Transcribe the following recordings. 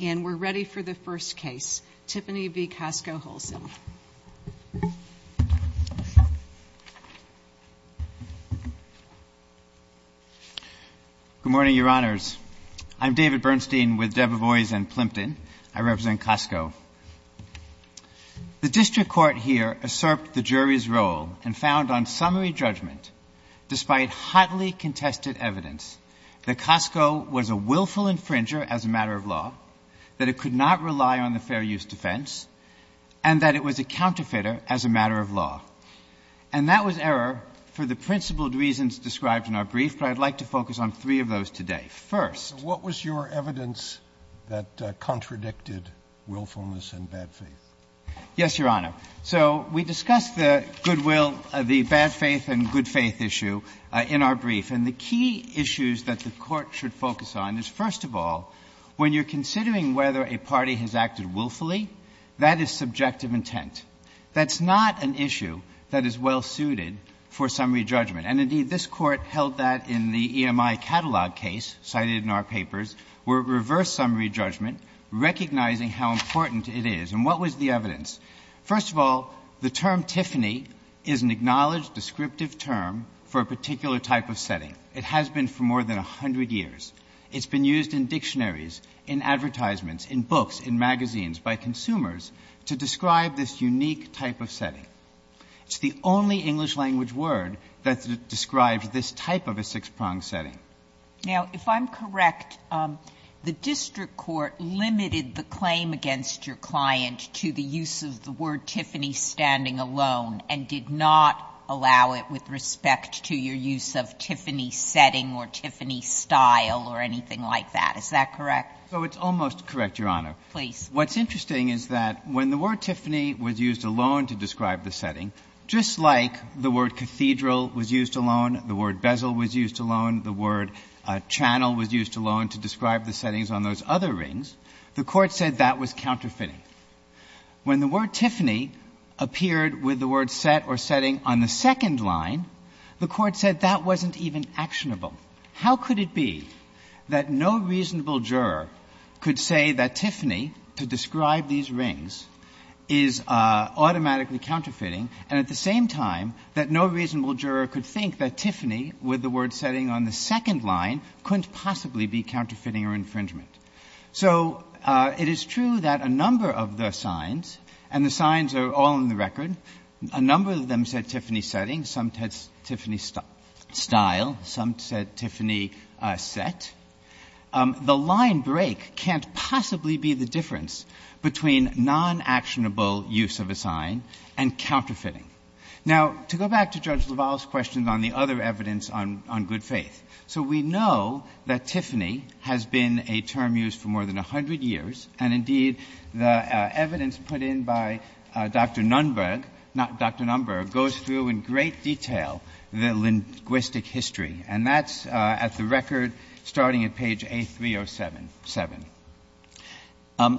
and we're ready for the first case, Tiffany v. Costco-Holson. Good morning, Your Honors. I'm David Bernstein with Debevoise & Plimpton. I represent Costco. The district court here usurped the jury's role and found on summary judgment, despite hotly contested evidence, that Costco was a willful infringer as a matter of law, that it could not rely on the fair use defense, and that it was a counterfeiter as a matter of law. And that was error for the principled reasons described in our brief, but I'd like to focus on three of those today. First- What was your evidence that contradicted willfulness and bad faith? Yes, Your Honor. So we discussed the goodwill, the bad faith and good faith issue in our brief. And the key issues that the court should focus on is, first of all, when you're considering whether a party has acted willfully, that is subjective intent. That's not an issue that is well suited for summary judgment. And, indeed, this court held that in the EMI catalog case cited in our papers, were reverse summary judgment, recognizing how important it is. And what was the evidence? First of all, the term Tiffany is an acknowledged descriptive term for a particular type of setting. It has been for more than 100 years. It's been used in dictionaries, in advertisements, in books, in magazines by consumers to describe this unique type of setting. It's the only English language word that describes this type of a six-prong setting. Now, if I'm correct, the district court limited the claim against your client to the use of the word Tiffany standing alone and did not allow it with respect to your use of Tiffany setting or Tiffany style or anything like that. Is that correct? So it's almost correct, Your Honor. Please. What's interesting is that when the word Tiffany was used alone to describe the setting, just like the word cathedral was used alone, the word bezel was used alone, the word channel was used alone to describe the settings on those other rings, the court said that was counterfeiting. When the word Tiffany appeared with the word set or setting on the second line, the court said that wasn't even actionable. How could it be that no reasonable juror could say that Tiffany to describe these rings is automatically counterfeiting and at the same time that no reasonable juror could think that Tiffany with the word setting on the second line couldn't possibly be counterfeiting or infringement. So it is true that a number of the signs, and the signs are all in the record, a number of them said Tiffany setting, some said Tiffany style, some said Tiffany set. The line break can't possibly be the difference between non-actionable use of a sign and counterfeiting. Now to go back to Judge LaValle's question on the other evidence on good faith. So we know that Tiffany has been a term used for more than 100 years and indeed the evidence put in by Dr. Nunberg, not Dr. Nunberg, goes through in great detail the linguistic history and that's at the record starting at page 8307.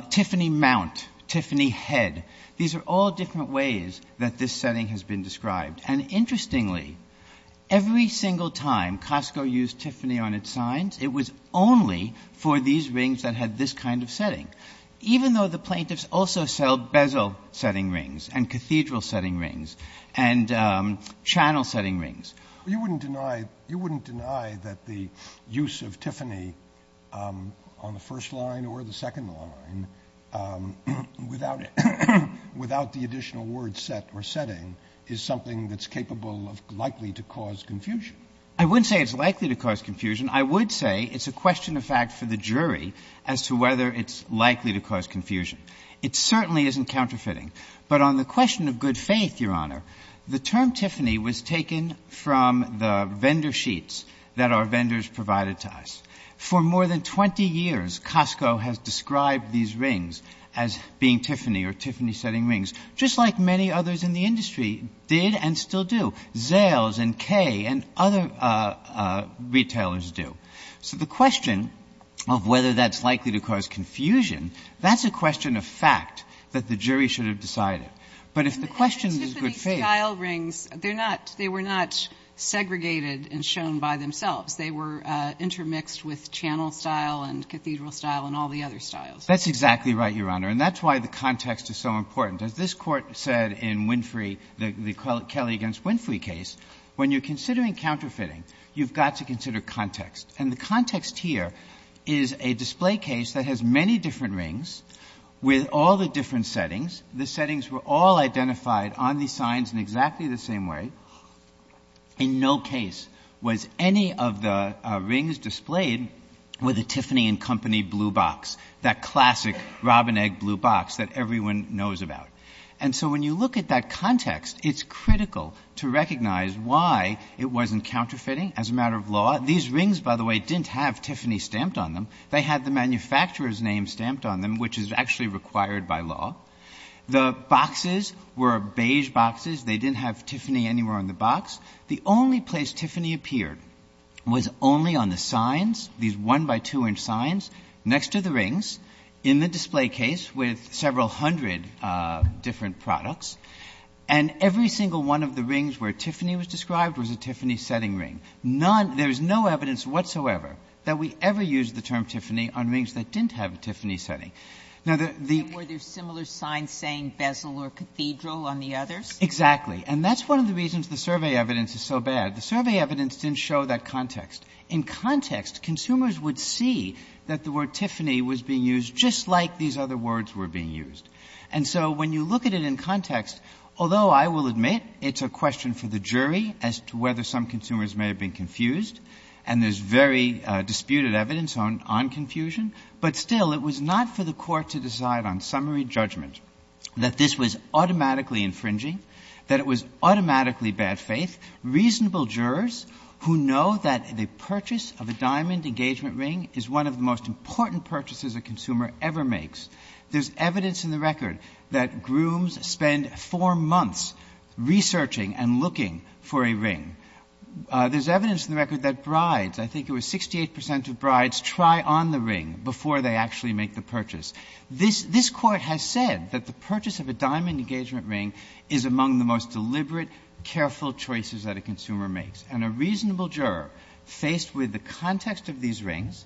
Tiffany mount, Tiffany head, these are all different ways that this setting has been described and interestingly every single time Costco used Tiffany on its signs it was only for these rings that had this kind of setting. Even though the plaintiffs also sell bezel setting rings and cathedral setting rings and channel setting rings. You wouldn't deny that the use of Tiffany on the first line or the second line without the additional word set or setting is something that's capable of likely to cause confusion. I wouldn't say it's likely to cause confusion. I would say it's a question of fact for the jury as to whether it's likely to cause confusion. It certainly isn't counterfeiting, but on the question of good faith, Your Honor, the term Tiffany was taken from the vendor sheets that our vendors provided to us. For more than 20 years Costco has described these rings as being Tiffany or Tiffany setting rings, just like many others in the industry did and still do. Zales and Kay and other retailers do. So the question of whether that's likely to cause confusion, that's a question of fact that the jury should have decided. But if the question is good faith. They were not segregated and shown by themselves. They were intermixed with channel style and cathedral style and all the other styles. That's exactly right, Your Honor. And that's why the context is so important. As this court said in Winfrey, the Kelly against Winfrey case, when you're considering counterfeiting, you've got to consider context. And the context here is a display case that has many different rings with all the different settings. The settings were all identified on the signs in exactly the same way. In no case was any of the rings displayed with a Tiffany and Company blue box, that classic robin egg blue box that everyone knows about. And so when you look at that context, it's critical to recognize why it wasn't counterfeiting as a matter of law. These rings, by the way, didn't have Tiffany stamped on them. They had the manufacturer's name stamped on them, which is actually required by law. The boxes were beige boxes. They didn't have Tiffany anywhere on the box. The only place Tiffany appeared was only on the signs, these one by two inch signs, next to the rings in the display case with several hundred different products. And every single one of the rings where Tiffany was described was a Tiffany setting ring. There's no evidence whatsoever that we ever used the term Tiffany on rings that didn't have a Tiffany setting. Were there similar signs saying Basil or Cathedral on the others? Exactly. And that's one of the reasons the survey evidence is so bad. The survey evidence didn't show that context. In context, consumers would see that the word Tiffany was being used just like these other words were being used. And so when you look at it in context, although I will admit it's a question for the jury as to whether some consumers may have been confused, and there's very disputed evidence on confusion, but still it was not for the court to decide on summary judgment that this was automatically infringing, that it was automatically bad faith. Reasonable jurors who know that the purchase of a diamond engagement ring is one of the most important purchases a consumer ever makes. There's evidence in the record that grooms spend four months researching and looking for a ring. There's evidence in the record that brides, I think it was 68 percent of brides, try on the ring before they actually make the purchase. This court has said that the purchase of a diamond engagement ring is among the most deliberate, careful choices that a consumer makes. And a reasonable juror faced with the context of these rings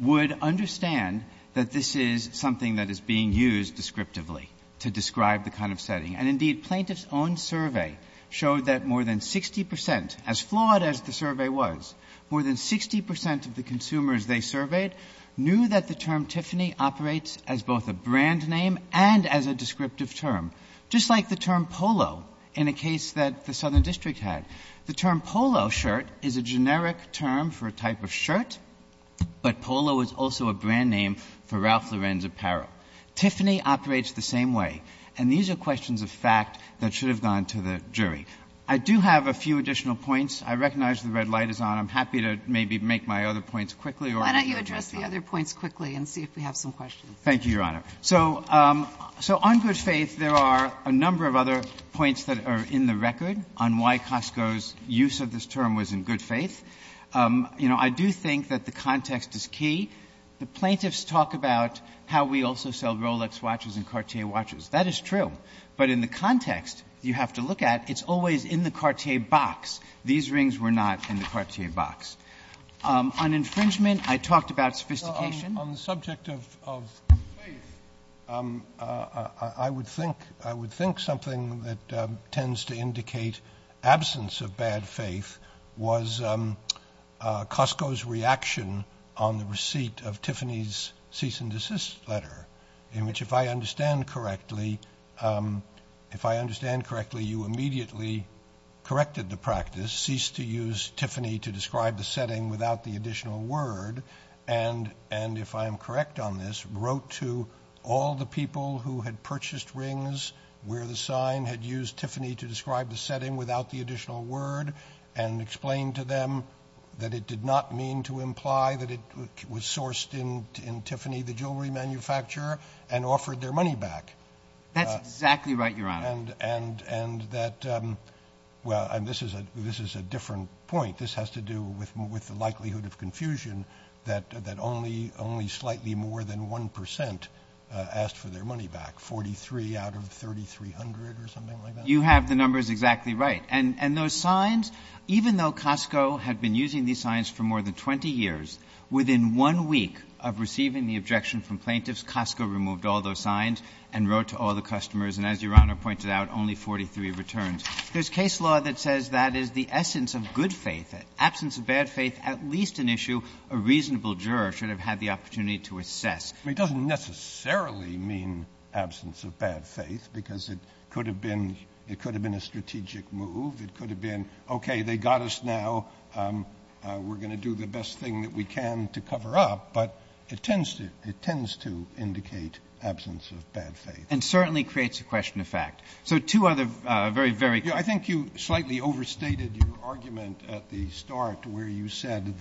would understand that this is something that is being used descriptively to describe the kind of setting. And indeed, Plaintiff's own survey showed that more than 60 percent, as flawed as the survey was, more than 60 percent of the consumers they surveyed knew that the term Tiffany operates as both a brand name and as a descriptive term. Just like the term polo in a case that the Southern District had. The term polo shirt is a generic term for a type of shirt, but polo is also a brand name for Ralph Lorenzo Parrot. Tiffany operates the same way. And these are questions of fact that should have gone to the jury. I do have a few additional points. I recognize the red light is on. I'm happy to maybe make my other points quickly. Or I can address the other points quickly and see if we have some questions. Thank you, Your Honor. So on good faith, there are a number of other points that are in the record on why Costco's use of this term was in good faith. You know, I do think that the context is key. The plaintiffs talk about how we also sell Rolex watches and Cartier watches. That is true. But in the context you have to look at, it's always in the Cartier box. These rings were not in the Cartier box. On infringement, I talked about sophistication. On the subject of faith, I would think something that tends to indicate absence of bad faith was Costco's reaction on the receipt of Tiffany's cease and desist letter, in which, if I understand correctly, you immediately corrected the practice, ceased to use Tiffany to describe the setting without the additional word, and if I'm correct on this, wrote to all the people who had purchased rings where the sign had used Tiffany to describe the setting without the additional word and explained to them that it did not mean to imply that it was sourced in Tiffany, the jewelry manufacturer, and offered their money back. That's exactly right, Your Honor. And that, well, and this is a different point. I think this has to do with the likelihood of confusion that only slightly more than one percent asked for their money back, 43 out of 3,300 or something like that. You have the numbers exactly right. And those signs, even though Costco had been using these signs for more than 20 years, within one week of receiving the objection from plaintiffs, Costco removed all those signs and wrote to all the customers, and as Your Honor pointed out, only 43 returns. There's case law that says that is the essence of good faith. Absence of bad faith, at least an issue a reasonable juror should have had the opportunity to assess. It doesn't necessarily mean absence of bad faith, because it could have been a strategic move. It could have been, okay, they got us now. We're going to do the best thing that we can to cover up. But it tends to indicate absence of bad faith. And certainly creates a question of fact. So two other very, very – I think you slightly overstated your argument at the start where you said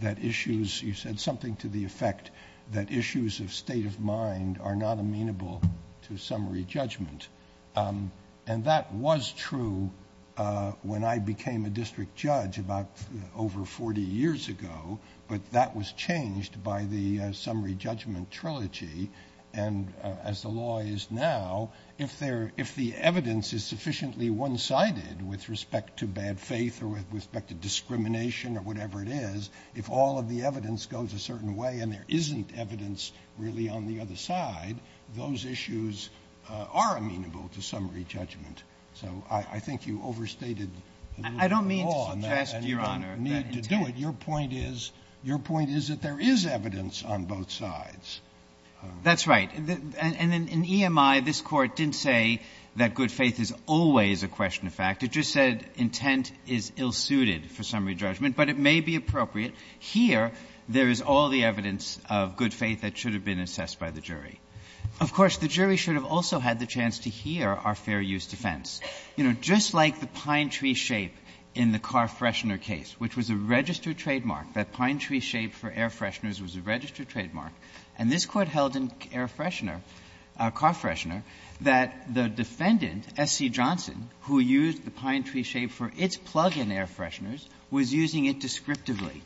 that issues – you said something to the effect that issues of state of mind are not amenable to summary judgment. And that was true when I became a district judge about over 40 years ago, but that was changed by the summary judgment trilogy. And as the law is now, if the evidence is sufficiently one-sided with respect to bad faith or with respect to discrimination or whatever it is, if all of the evidence goes a certain way and there isn't evidence really on the other side, those issues are amenable to summary judgment. So I think you overstated the rule of the law. I don't mean to task you, Your Honor. Your point is that there is evidence on both sides. That's right. And in EMI, this court didn't say that good faith is always a question of fact. It just said intent is ill-suited for summary judgment. But it may be appropriate. Here, there is all the evidence of good faith that should have been assessed by the jury. Of course, the jury should have also had the chance to hear our fair use defense. You know, just like the pine tree shape in the Carfreshener case, which was a registered trademark, that pine tree shape for air fresheners was a registered trademark, and this court held in Carfreshener that the defendant, S.C. Johnson, who used the pine tree shape for its plug-in air fresheners, was using it descriptively.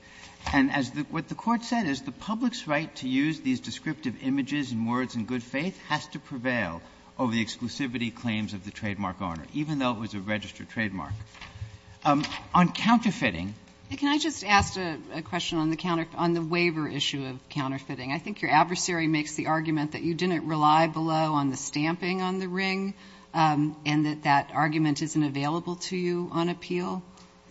And what the court said is the public's right to use these descriptive images and words in good faith has to prevail over the exclusivity claims of the trademark owner, even though it was a registered trademark. On counterfeiting. Can I just ask a question on the waiver issue of counterfeiting? I think your adversary makes the argument that you didn't rely below on the stamping on the ring and that that argument isn't available to you on appeal.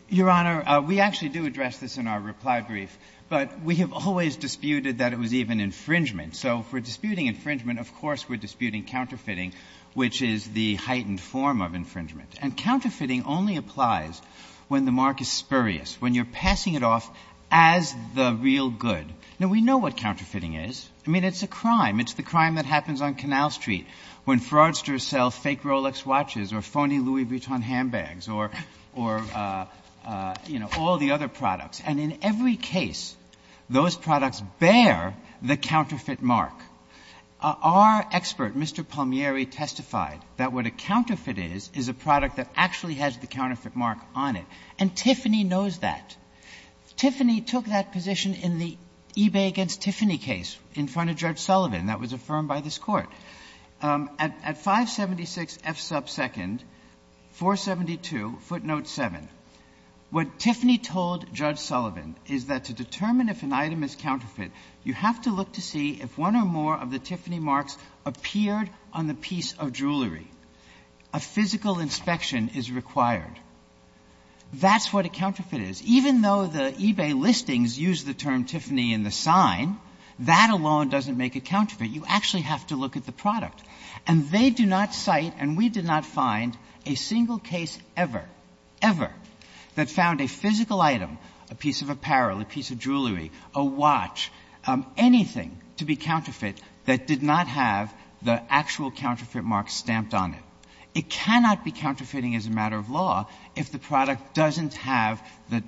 Your Honor, we actually do address this in our reply brief, but we have always disputed that it was even infringement. So if we're disputing infringement, of course we're disputing counterfeiting, which is the heightened form of infringement. And counterfeiting only applies when the mark is spurious, when you're passing it off as the real good. Now, we know what counterfeiting is. I mean, it's a crime. It's the crime that happens on Canal Street when fraudsters sell fake Rolex watches or phony Louis Vuitton handbags or, you know, all the other products. And in every case, those products bear the counterfeit mark. Our expert, Mr. Palmieri, testified that what a counterfeit is is a product that actually has the counterfeit mark on it. And Tiffany knows that. Tiffany took that position in the eBay against Tiffany case in front of Judge Sullivan. That was affirmed by this Court. At 576 F sub 2nd, 472 footnote 7, what Tiffany told Judge Sullivan is that to determine if an item is counterfeit, you have to look to see if one or more of the Tiffany marks appeared on the piece of jewelry. A physical inspection is required. That's what a counterfeit is. Even though the eBay listings use the term Tiffany in the sign, that alone doesn't make a counterfeit. You actually have to look at the product. And they do not cite, and we did not find, a single case ever, ever, that found a physical item, a piece of apparel, a piece of jewelry, a watch, anything to be counterfeit that did not have the actual counterfeit mark stamped on it. It cannot be counterfeiting as a matter of law if the product doesn't have the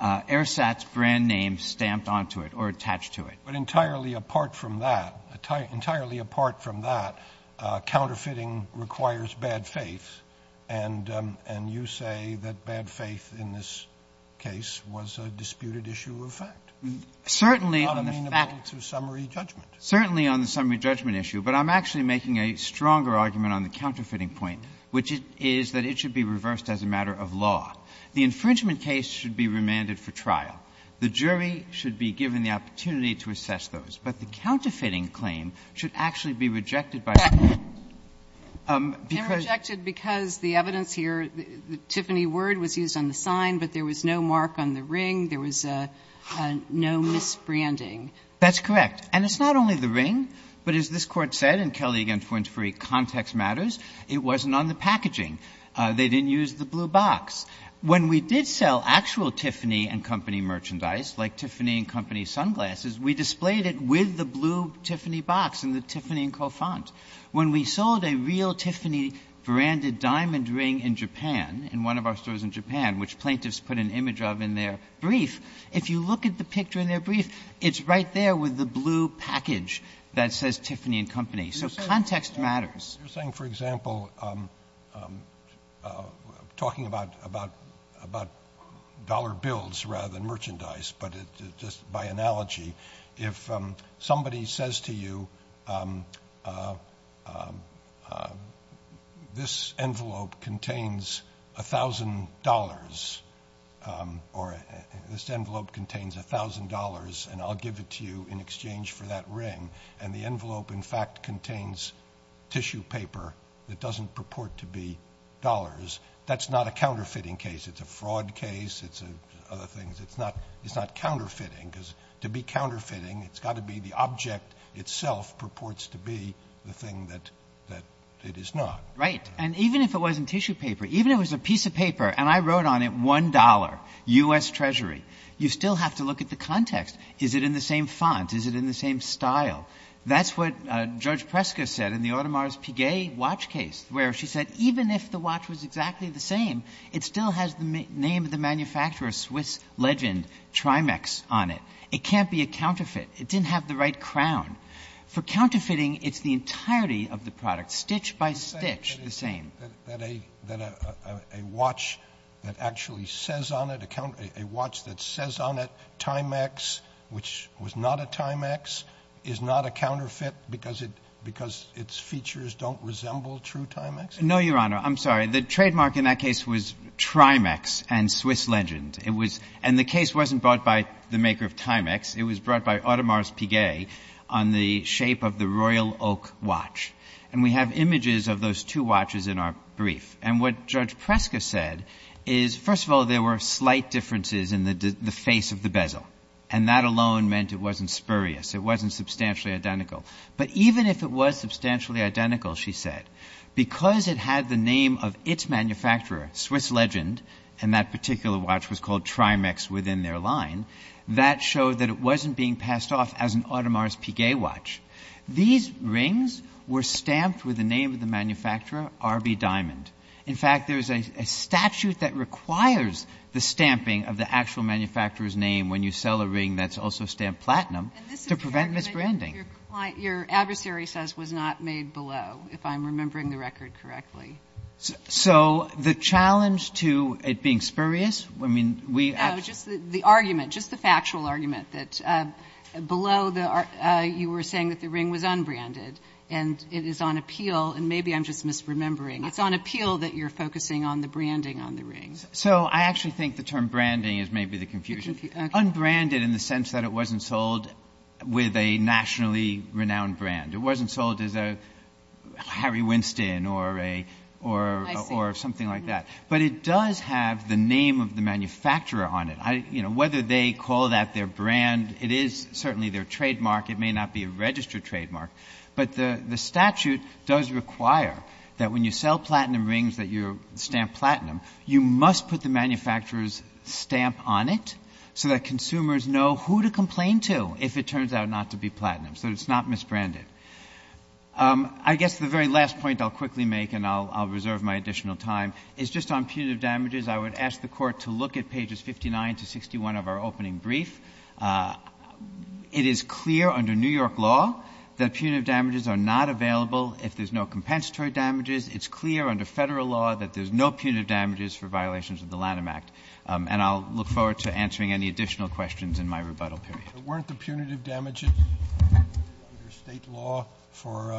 Airsats brand name stamped onto it or attached to it. But entirely apart from that, entirely apart from that, counterfeiting requires bad faith, and you say that bad faith in this case was a disputed issue of fact. Certainly on the summary judgment issue, but I'm actually making a stronger argument on the counterfeiting point, which is that it should be reversed as a matter of law. The infringement case should be remanded for trial. The jury should be given the opportunity to assess those. But the counterfeiting claim should actually be rejected by the court. They're rejected because the evidence here, the Tiffany word was used on the sign, but there was no mark on the ring. There was no misbranding. That's correct. And it's not only the ring, but as this Court said, in Kelly v. Fornsbury, context matters. It wasn't on the packaging. They didn't use the blue box. When we did sell actual Tiffany & Company merchandise, like Tiffany & Company sunglasses, we displayed it with the blue Tiffany box and the Tiffany & Co. font. When we sold a real Tiffany branded diamond ring in Japan, in one of our stores in Japan, which plaintiffs put an image of in their brief, if you look at the picture in their brief, it's right there with the blue package that says Tiffany & Company. So context matters. You're saying, for example, talking about dollar bills rather than merchandise, but just by analogy, if somebody says to you, this envelope contains $1,000, or this envelope contains $1,000, and I'll give it to you in exchange for that ring, and the envelope, in fact, contains tissue paper that doesn't purport to be dollars, that's not a counterfeiting case. It's a fraud case. It's other things. It's not counterfeiting, because to be counterfeiting, it's got to be the object itself purports to be the thing that it is not. Right, and even if it wasn't tissue paper, even if it was a piece of paper, and I wrote on it $1, U.S. Treasury, you still have to look at the context. Is it in the same font? Is it in the same style? That's what George Prescott said in the Audemars Piguet watch case, where she said, even if the watch was exactly the same, it still has the name of the manufacturer, Swiss legend, Trimex, on it. It can't be a counterfeit. It didn't have the right crown. For counterfeiting, it's the entirety of the product, stitch by stitch, the same. That a watch that actually says on it, a watch that says on it, Trimex, which was not a Timex, is not a counterfeit because its features don't resemble true Timex? No, Your Honor. I'm sorry. The trademark in that case was Trimex and Swiss legend. And the case wasn't brought by the maker of Timex. It was brought by Audemars Piguet on the shape of the Royal Oak watch. And we have images of those two watches in our brief. And what Judge Prescott said is, first of all, there were slight differences in the face of the bezel. And that alone meant it wasn't spurious. It wasn't substantially identical. But even if it was substantially identical, she said, because it had the name of its manufacturer, Swiss legend, and that particular watch was called Trimex within their line, that showed that it wasn't being passed off as an Audemars Piguet watch. These rings were stamped with the name of the manufacturer, RB Diamond. In fact, there's a statute that requires the stamping of the actual manufacturer's name when you sell a ring that's also stamped platinum to prevent misbranding. Your adversary says was not made below, if I'm remembering the record correctly. So the challenge to it being spurious, I mean, we... No, just the argument, just the factual argument that below, you were saying that the ring was unbranded. And it is on appeal, and maybe I'm just misremembering. It's on appeal that you're focusing on the branding on the ring. So I actually think the term branding is maybe the confusion. Unbranded in the sense that it wasn't sold with a nationally renowned brand. It wasn't sold as a Harry Winston or something like that. But it does have the name of the manufacturer on it. Whether they call that their brand, it is certainly their trademark. It may not be a registered trademark. But the statute does require that when you sell platinum rings that you stamp platinum, you must put the manufacturer's stamp on it so that consumers know who to complain to if it turns out not to be platinum, so it's not misbranded. I guess the very last point I'll quickly make, and I'll reserve my additional time, is just on punitive damages. I would ask the Court to look at pages 59 to 61 of our opening brief. It is clear under New York law that punitive damages are not available if there's no compensatory damages. It's clear under federal law that there's no punitive damages for violations of the Lanham Act. And I'll look forward to answering any additional questions in my rebuttal period. Weren't the punitive damages under state law for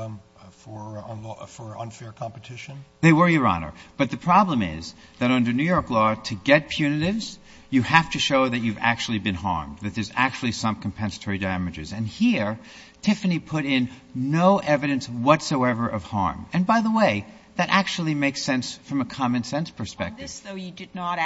unfair competition? They were, Your Honor. But the problem is that under New York law, to get punitives, you have to show that you've actually been harmed, that there's actually some compensatory damages. And here, Tiffany put in no evidence whatsoever of harm. And by the way, that actually makes sense from a common-sense perspective. So you did not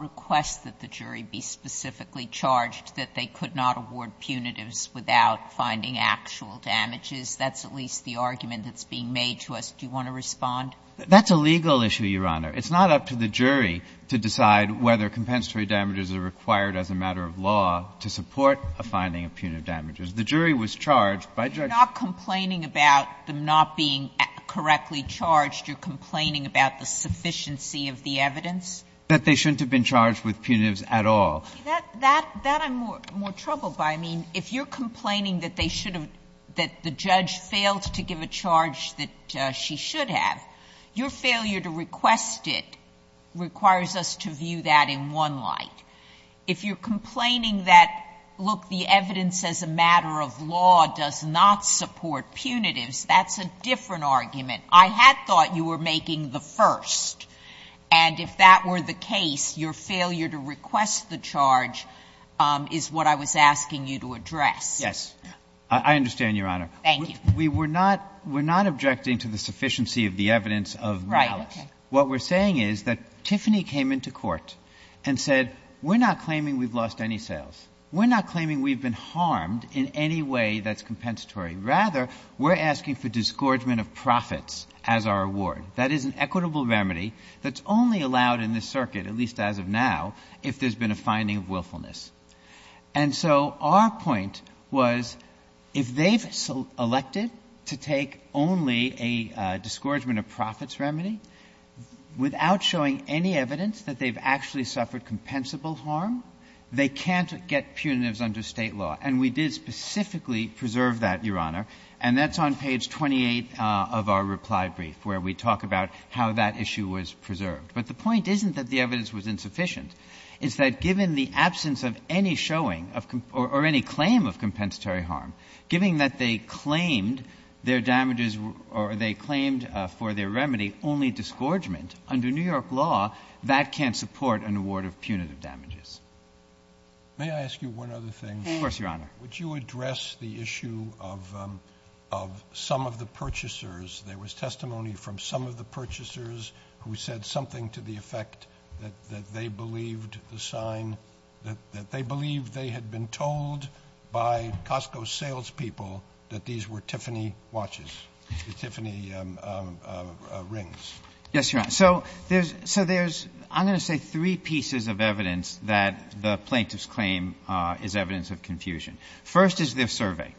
request that the jury be specifically charged that they could not award punitives without finding actual damages? That's at least the argument that's being made to us. Do you want to respond? That's a legal issue, Your Honor. It's not up to the jury to decide whether compensatory damages are required as a matter of law to support a finding of punitive damages. The jury was charged by judges. You're not complaining about them not being correctly charged. You're complaining about the sufficiency of the evidence? That they shouldn't have been charged with punitives at all. That I'm more troubled by. I mean, if you're complaining that the judge failed to give a charge that she should have, your failure to request it requires us to view that in one light. If you're complaining that, look, the evidence as a matter of law does not support punitives, that's a different argument. I had thought you were making the first. And if that were the case, your failure to request the charge is what I was asking you to address. Yes. I understand, Your Honor. Thank you. We're not objecting to the sufficiency of the evidence of violence. What we're saying is that Tiffany came into court and said, we're not claiming we've lost any sales. We're not claiming we've been harmed in any way that's compensatory. Rather, we're asking for disgorgement of profits as our award. That is an equitable remedy that's only allowed in this circuit, at least as of now, if there's been a finding of willfulness. And so our point was if they've elected to take only a disgorgement of profits remedy without showing any evidence that they've actually suffered compensable harm, they can't get punitives under state law. And we did specifically preserve that, Your Honor. And that's on page 28 of our reply brief where we talk about how that issue was preserved. But the point isn't that the evidence was insufficient. It's that given the absence of any showing or any claim of compensatory harm, given that they claimed their damages or they claimed for their remedy only disgorgement, under New York law, that can't support an award of punitive damages. Of course, Your Honor. Would you address the issue of some of the purchasers? There was testimony from some of the purchasers who said something to the effect that they believed the sign, that they believed they had been told by Costco salespeople that these were Tiffany watches, Tiffany rings. Yes, Your Honor. So there's, I'm going to say, three pieces of evidence that the plaintiff's claim is evidence of confusion. First is their survey.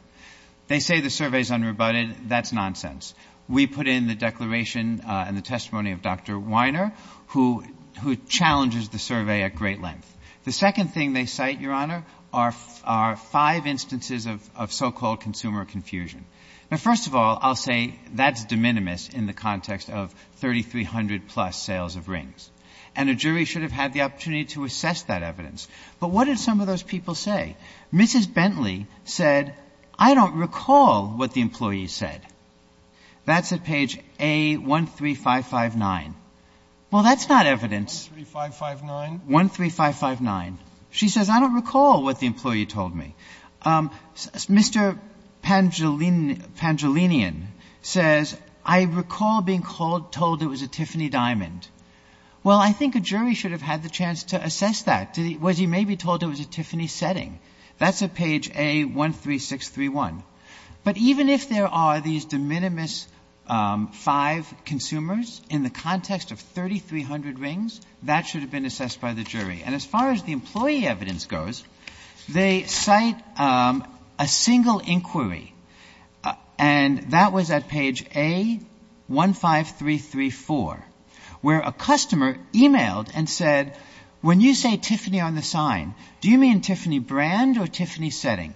They say the survey is unrebutted. That's nonsense. We put in the declaration and the testimony of Dr. Weiner, who challenges the survey at great length. The second thing they cite, Your Honor, are five instances of so-called consumer confusion. Now, first of all, I'll say that's de minimis in the context of 3,300-plus sales of rings. And a jury should have had the opportunity to assess that evidence. But what did some of those people say? Mrs. Bentley said, I don't recall what the employee said. That's at page A13559. Well, that's not evidence. 13559? 13559. She says, I don't recall what the employee told me. Mr. Pangellinian says, I recall being told it was a Tiffany diamond. Well, I think a jury should have had the chance to assess that. Was he maybe told it was a Tiffany setting? That's at page A13631. But even if there are these de minimis five consumers in the context of 3,300 rings, that should have been assessed by the jury. And as far as the employee evidence goes, they cite a single inquiry. And that was at page A15334, where a customer emailed and said, when you say Tiffany on the sign, do you mean Tiffany brand or Tiffany setting?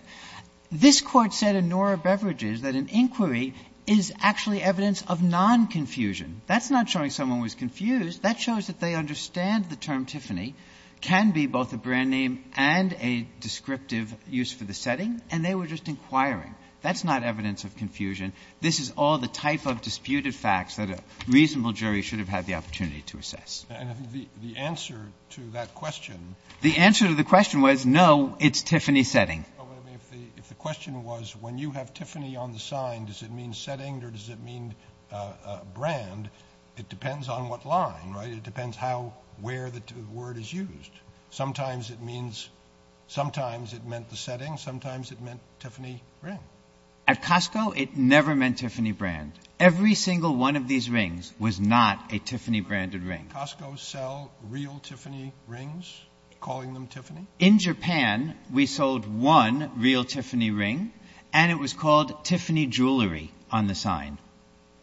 This court said in Nora Beverages that an inquiry is actually evidence of non-confusion. That's not showing someone was confused. That shows that they understand the term Tiffany can be both a brand name and a descriptive use for the setting. And they were just inquiring. That's not evidence of confusion. This is all the type of disputed facts that a reasonable jury should have had the opportunity to assess. And the answer to that question. The answer to the question was, no, it's Tiffany setting. The question was, when you have Tiffany on the sign, does it mean setting or does it mean brand? It depends on what line, right? It depends how, where the word is used. Sometimes it means, sometimes it meant the setting. Sometimes it meant Tiffany ring. At Costco, it never meant Tiffany brand. Every single one of these rings was not a Tiffany branded ring. Costco sell real Tiffany rings, calling them Tiffany? In Japan, we sold one real Tiffany ring. And it was called Tiffany jewelry on the sign.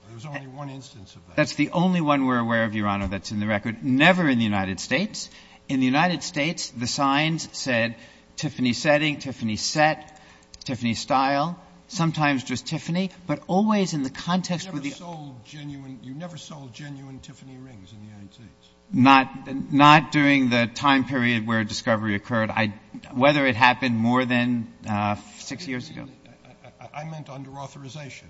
There was only one instance of that? That's the only one we're aware of, Your Honor, that's in the record. Never in the United States. In the United States, the signs said Tiffany setting, Tiffany set, Tiffany style. Sometimes just Tiffany. But always in the context... You never sold genuine Tiffany rings in the United States? Not during the time period where discovery occurred. Whether it happened more than six years ago. I meant under authorization.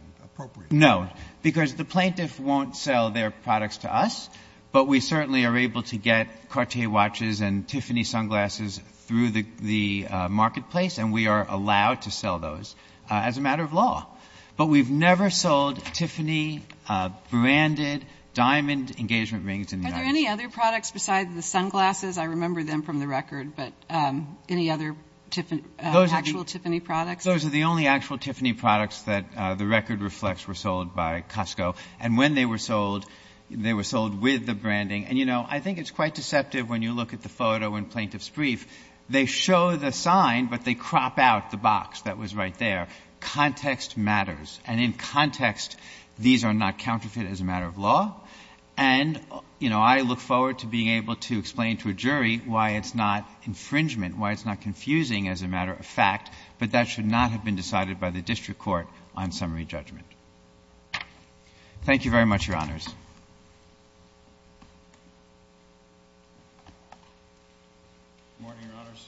No, because the plaintiff won't sell their products to us, but we certainly are able to get Cartier watches and Tiffany sunglasses through the marketplace, and we are allowed to sell those as a matter of law. But we've never sold Tiffany branded diamond engagement rings in the United States. Are there any other products besides the sunglasses? I remember them from the record, but any other actual Tiffany products? Those are the only actual Tiffany products that the record reflects were sold by Costco. And when they were sold, they were sold with the branding. And, you know, I think it's quite deceptive when you look at the photo in plaintiff's brief. They show the sign, but they crop out the box that was right there. Context matters. And in context, these are not counterfeit as a matter of law. And, you know, I look forward to being able to explain to a jury why it's not infringement, why it's not confusing as a matter of fact, but that should not have been decided by the district court on summary judgment. Thank you very much, Your Honors. Good morning, Your Honors.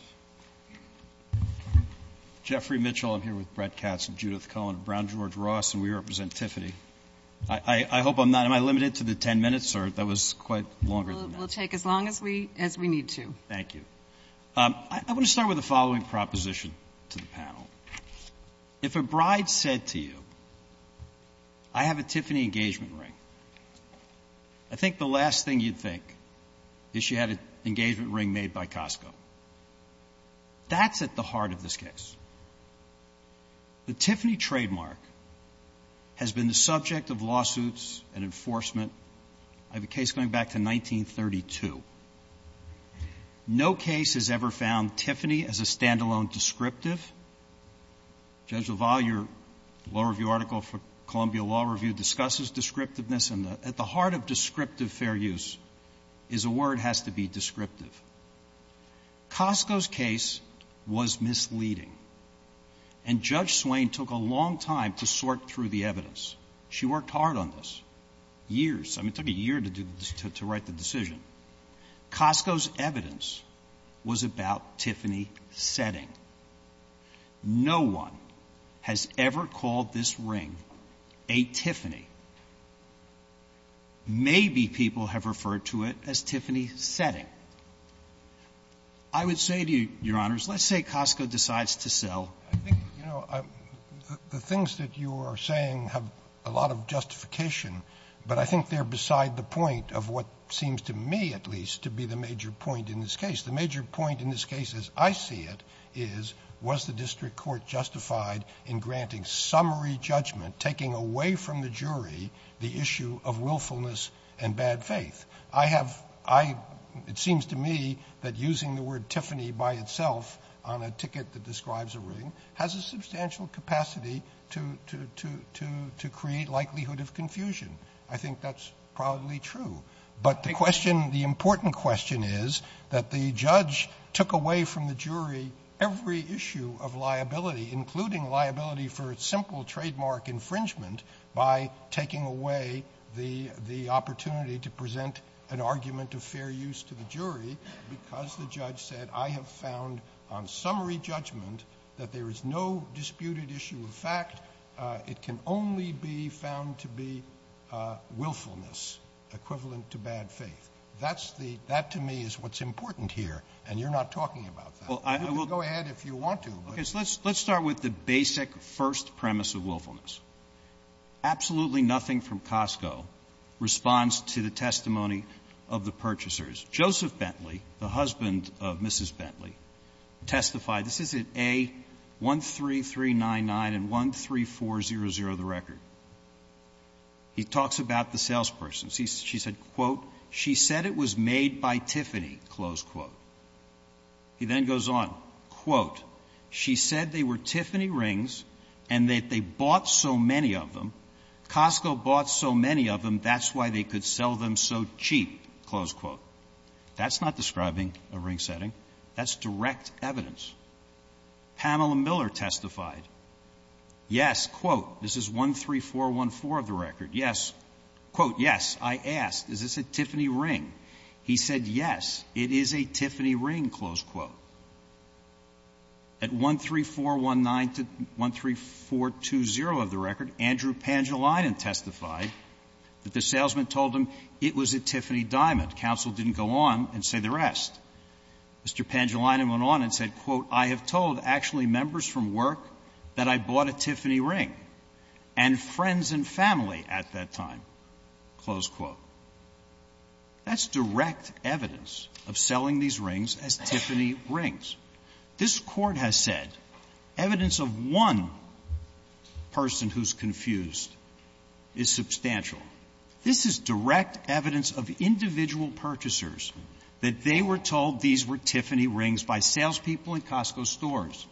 Jeffrey Mitchell. I'm here with Brett Katz and Judith Cullen, Brown George Ross, and we represent Tiffany. I hope I'm not am I limited to the 10 minutes or that was quite longer than that. We'll take as long as we need to. Thank you. I'm going to start with the following proposition to the panel. If a bride said to you, I have a Tiffany engagement ring, I think the last thing you'd think is she had an engagement ring made by Costco. That's at the heart of this case. The Tiffany trademark has been the subject of lawsuits and enforcement. I have a case going back to 1932. No case has ever found Tiffany as a standalone descriptive. Judge LaValle, your law review article for Columbia Law Review discusses descriptiveness, and at the heart of descriptive fair use is a word has to be descriptive. Costco's case was misleading, and Judge Swain took a long time to sort through the evidence. She worked hard on this. Years. I mean, it took a year to write the decision. Costco's evidence was about Tiffany setting. No one has ever called this ring a Tiffany. Maybe people have referred to it as Tiffany setting. I would say to you, your honors, let's say Costco decides to sell. The things that you are saying have a lot of justification, but I think they're beside the point of what seems to me at least to be the major point in this case. The major point in this case, as I see it, was the district court justified in granting summary judgment, taking away from the jury the issue of willfulness and bad faith? It seems to me that using the word Tiffany by itself on a ticket that describes a ring has a substantial capacity to create likelihood of confusion. I think that's probably true, but the important question is that the judge took away from the jury every issue of liability, including liability for a simple trademark infringement, by taking away the opportunity to present an argument of fair use to the jury because the judge said, I have found on summary judgment that there is no disputed issue of fact. It can only be found to be willfulness equivalent to bad faith. That to me is what's important here, and you're not talking about that. Go ahead if you want to. Let's start with the basic first premise of willfulness. Absolutely nothing from Costco responds to the testimony of the purchasers. Joseph Bentley, the husband of Mrs. Bentley, testified. This is in A13399 and 13400, the record. He talks about the salesperson. She said, quote, she said it was made by Tiffany, close quote. He then goes on, quote, she said they were Tiffany rings and that they bought so many of them. Costco bought so many of them, that's why they could sell them so cheap, close quote. That's not describing a ring setting. That's direct evidence. Pamela Miller testified. Yes, quote, this is 13414 of the record. Yes, quote, yes, I asked, is this a Tiffany ring? He said, yes, it is a Tiffany ring, close quote. At 13419 to 13420 of the record, Andrew Pangelinan testified that the salesman told him it was a Tiffany diamond. Counsel didn't go on and say the rest. Mr. Pangelinan went on and said, quote, I have told actually members from work that I bought a Tiffany ring and friends and family at that time, close quote. That's direct evidence of selling these rings as Tiffany rings. This court has said evidence of one person who's confused is substantial. This is direct evidence of individual purchasers that they were told these were Tiffany rings by salespeople in Costco stores.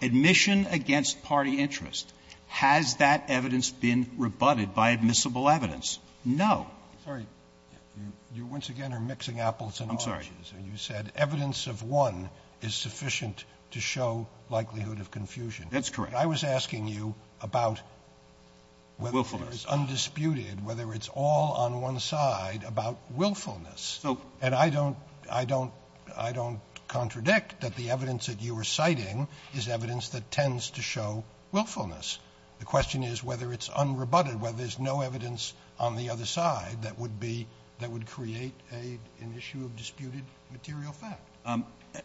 Admission against party interest. Has that evidence been rebutted by admissible evidence? No. You once again are mixing apples and oranges. And you said evidence of one is sufficient to show likelihood of confusion. That's correct. I was asking you about whether it's undisputed, whether it's all on one side about willfulness. And I don't I don't I don't contradict that the evidence that you were citing is evidence that tends to show willfulness. The question is whether it's unrebutted, whether there's no evidence on the other side that would be that would create an issue of disputed material fact.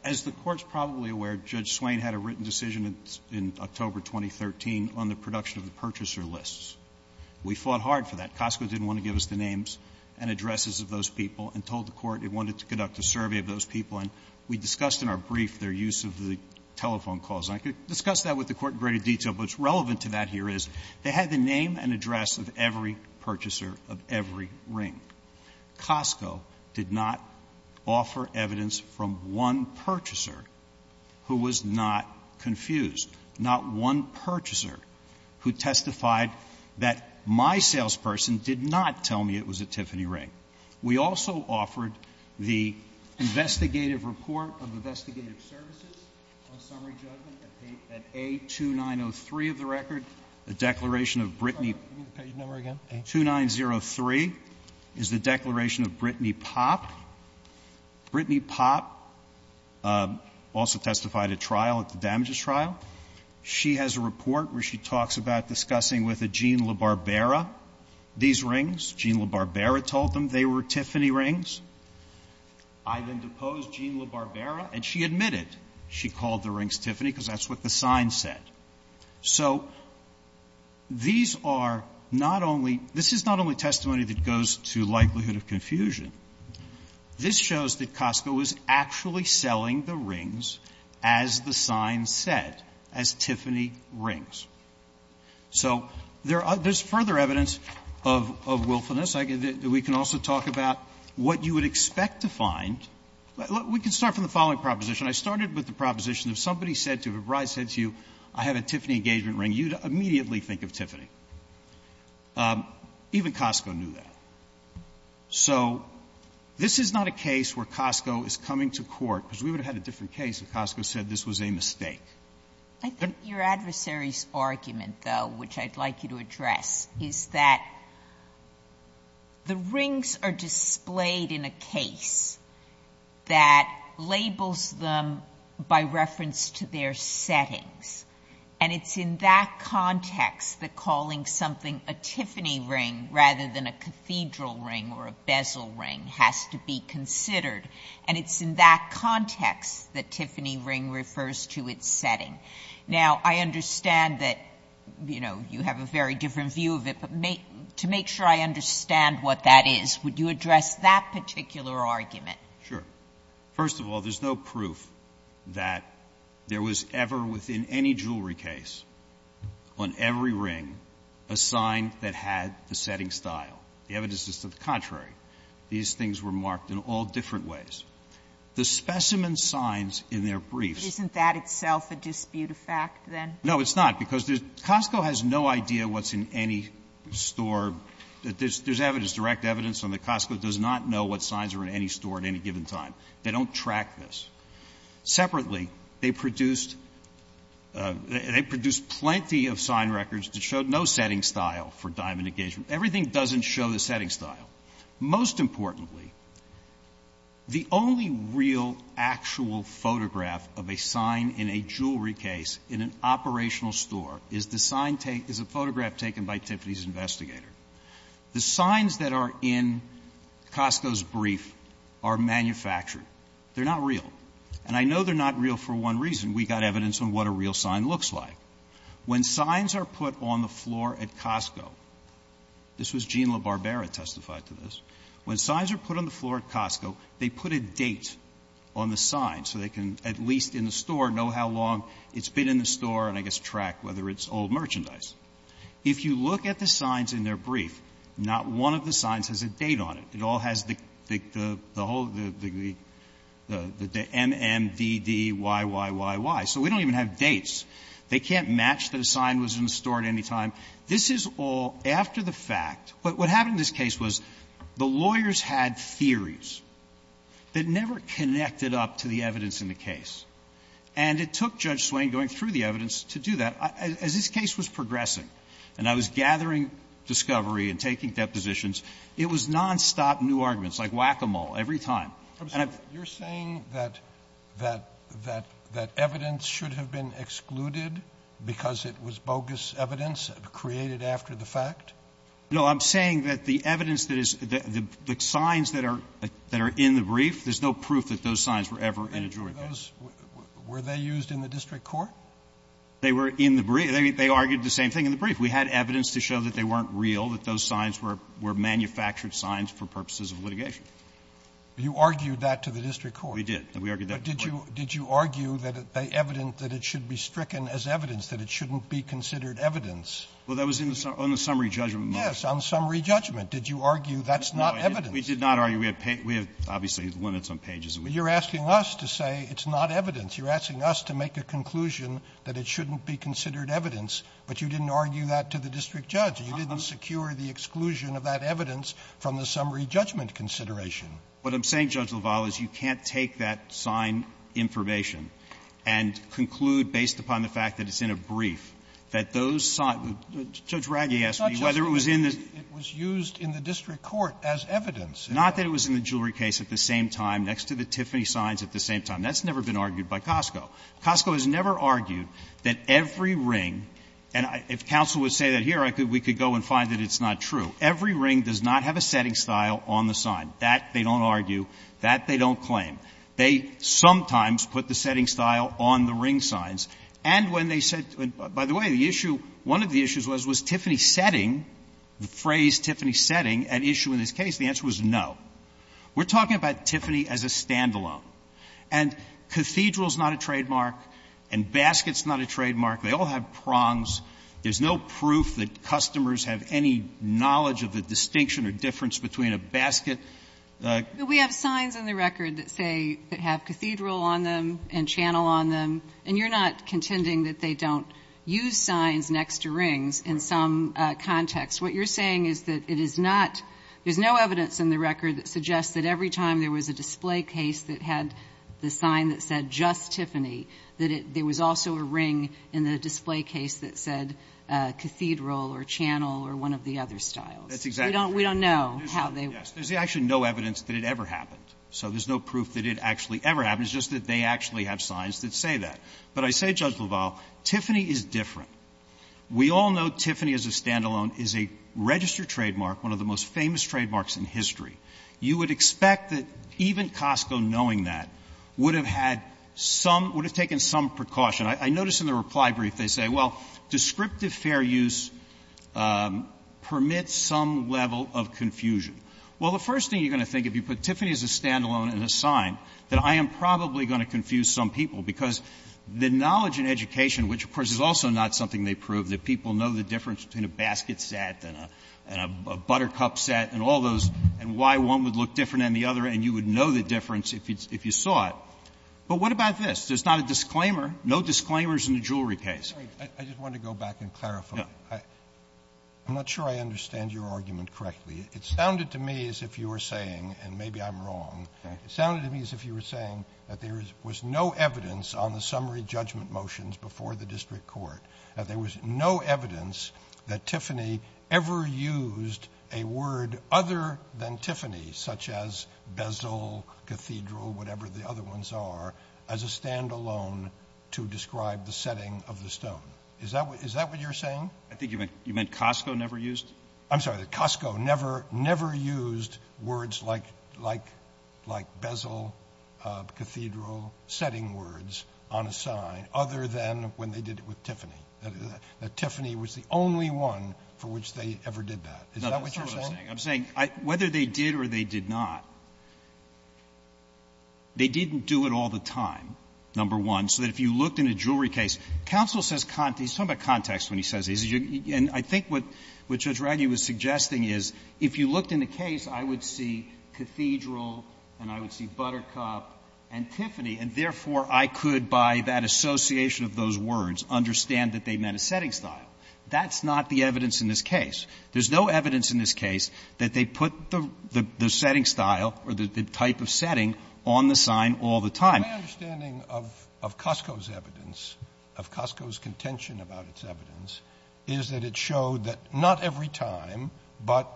As the court's probably aware, Judge Swain had a written decision in October 2013 on the production of the purchaser lists. We fought hard for that. Costco didn't want to give us the names and addresses of those people and told the court it wanted to conduct a survey of those people. And we discussed in our brief their use of the telephone calls. I could discuss that with the court in greater detail, but what's relevant to that here is they had the name and address of every purchaser of every ring. Costco did not offer evidence from one purchaser who was not confused, not one purchaser who testified that my salesperson did not tell me it was a Tiffany ring. We also offered the investigative report of investigative services at a two nine oh three of the record. The declaration of Brittany to nine zero three is the declaration of Brittany Pop. Brittany Pot also testified a trial of the damages trial. She has a report where she talks about discussing with a gene LaBarbera. These rings, Gene LaBarbera told them they were Tiffany rings. I then deposed Gene LaBarbera and she admitted she called the rings Tiffany because that's what the sign said. So these are not only, this is not only testimony that goes to likelihood of confusion. This shows that Costco is actually selling the rings as the sign said, as Tiffany rings. So there's further evidence of willfulness. We can also talk about what you would expect to find. We can start from the following proposition. I started with the proposition if somebody said to you, if a bride said to you, I have a Tiffany engagement ring, you'd immediately think of Tiffany. Even Costco knew that. So this is not a case where Costco is coming to court because we would have had a different case if Costco said this was a mistake. I think your adversary's argument, though, which I'd like you to address, is that the rings are displayed in a case that labels them by reference to their settings. And it's in that context that calling something a Tiffany ring rather than a cathedral ring or a bezel ring has to be considered. And it's in that context that Tiffany ring refers to its setting. Now, I understand that, you know, you have a very different view of it, but to make sure I understand what that is, would you address that particular argument? Sure. First of all, there's no proof that there was ever within any jewelry case on every ring a sign that had the setting style. The evidence is to the contrary. These things were marked in all different ways. The specimen signs in their briefs... Isn't that itself a disputed fact, then? No, it's not, because Costco has no idea what's in any store. There's direct evidence that Costco does not know what signs are in any store at any given time. They don't track this. Separately, they produced plenty of sign records that showed no setting style for diamond engagement. Everything doesn't show the setting style. Most importantly, the only real actual photograph of a sign in a jewelry case in an operational store is a photograph taken by Tiffany's investigator. The signs that are in Costco's brief are manufactured. They're not real. And I know they're not real for one reason. We got evidence on what a real sign looks like. When signs are put on the floor at Costco... This was Jean LaBarbera who testified to this. When signs are put on the floor at Costco, they put a date on the sign so they can, at least in the store, know how long it's been in the store and, I guess, track whether it's old merchandise. If you look at the signs in their brief, not one of the signs has a date on it. It all has the M-M-D-D-Y-Y-Y-Y. So we don't even have dates. They can't match those signs in the store at any time. This is all after the fact. But what happened in this case was the lawyers had theories that never connected up to the evidence in the case. And it took Judge Swain going through the evidence to do that, as this case was progressing. And I was gathering discovery and taking depositions. It was nonstop new arguments, like whack-a-mole, every time. You're saying that evidence should have been excluded because it was bogus evidence created after the fact? No, I'm saying that the evidence, the signs that are in the brief, there's no proof that those signs were ever in a jury. Were they used in the district court? They were in the brief. They argued the same thing in the brief. We had evidence to show that they weren't real, that those signs were manufactured signs for purposes of litigation. You argued that to the district court? We did. Did you argue that it should be stricken as evidence, that it shouldn't be considered evidence? Well, that was on the summary judgment. Yes, on the summary judgment. Did you argue that's not evidence? We did not argue. Obviously, he's winning some pages. You're asking us to say it's not evidence. You're asking us to make a conclusion that it shouldn't be considered evidence. But you didn't argue that to the district judge. You didn't secure the exclusion of that evidence from the summary judgment consideration. What I'm saying, Judge LaValle, is you can't take that sign information and conclude, based upon the fact that it's in a brief, that those signs — Judge Raggi asked me whether it was in the — It was used in the district court as evidence. Not that it was in the jewelry case at the same time, next to the Tiffany signs at the same time. That's never been argued by Costco. Costco has never argued that every ring — and if counsel would say that here, we could go and find that it's not true. Every ring does not have a setting style on the sign. That, they don't argue. That, they don't claim. They sometimes put the setting style on the ring signs. And when they said — by the way, the issue — one of the issues was, was Tiffany setting, the phrase Tiffany setting, an issue in this case? The answer was no. We're talking about Tiffany as a standalone. And cathedral's not a trademark. And basket's not a trademark. They all have prongs. There's no proof that customers have any knowledge of the distinction or difference between a basket — We have signs on the record that say — that have cathedral on them and channel on them. And you're not contending that they don't use signs next to rings in some context. What you're saying is that it is not — there's no evidence in the record that suggests that every time there was a display case that had the sign that said just Tiffany, that there was also a ring in the display case that said cathedral or channel or one of the other styles. We don't know how they — There's actually no evidence that it ever happened. So there's no proof that it actually ever happened. It's just that they actually have signs that say that. But I say, Judge LaValle, Tiffany is different. We all know Tiffany as a standalone is a registered trademark, one of the most famous trademarks in history. You would expect that even Costco, knowing that, would have had some — would have taken some precaution. I notice in the reply brief they say, well, descriptive fair use permits some level of confusion. Well, the first thing you're going to think if you put Tiffany as a standalone in a sign, that I am probably going to confuse some people because the knowledge and education, which, of course, is also not something they prove, that people know the difference between a basket set and a buttercup set and all those and why one would look different than the other, and you would know the difference if you saw it. But what about this? There's not a disclaimer. No disclaimers in the jewelry case. I just wanted to go back and clarify. I'm not sure I understand your argument correctly. It sounded to me as if you were saying — and maybe I'm wrong. It sounded to me as if you were saying that there was no evidence on the summary judgment motions before the district court, that there was no evidence that Tiffany ever used a word other than Tiffany, such as bezel, cathedral, whatever the other ones are, as a standalone to describe the setting of the stone. Is that what you're saying? I think you meant Costco never used? I'm sorry, Costco never used words like bezel, cathedral, setting words on a sign other than when they did it with Tiffany, that Tiffany was the only one for which they ever did that. Is that what you're saying? I'm saying whether they did or they did not, they didn't do it all the time, number one, Counsel says — he's talking about context when he says this. And I think what Judge Raggi was suggesting is if you looked in the case, I would see cathedral and I would see buttercup and Tiffany, and therefore I could, by that association of those words, understand that they meant a setting style. That's not the evidence in this case. There's no evidence in this case that they put the setting style or the type of setting on the sign all the time. My understanding of Costco's evidence, of Costco's contention about its evidence, is that it showed that not every time, but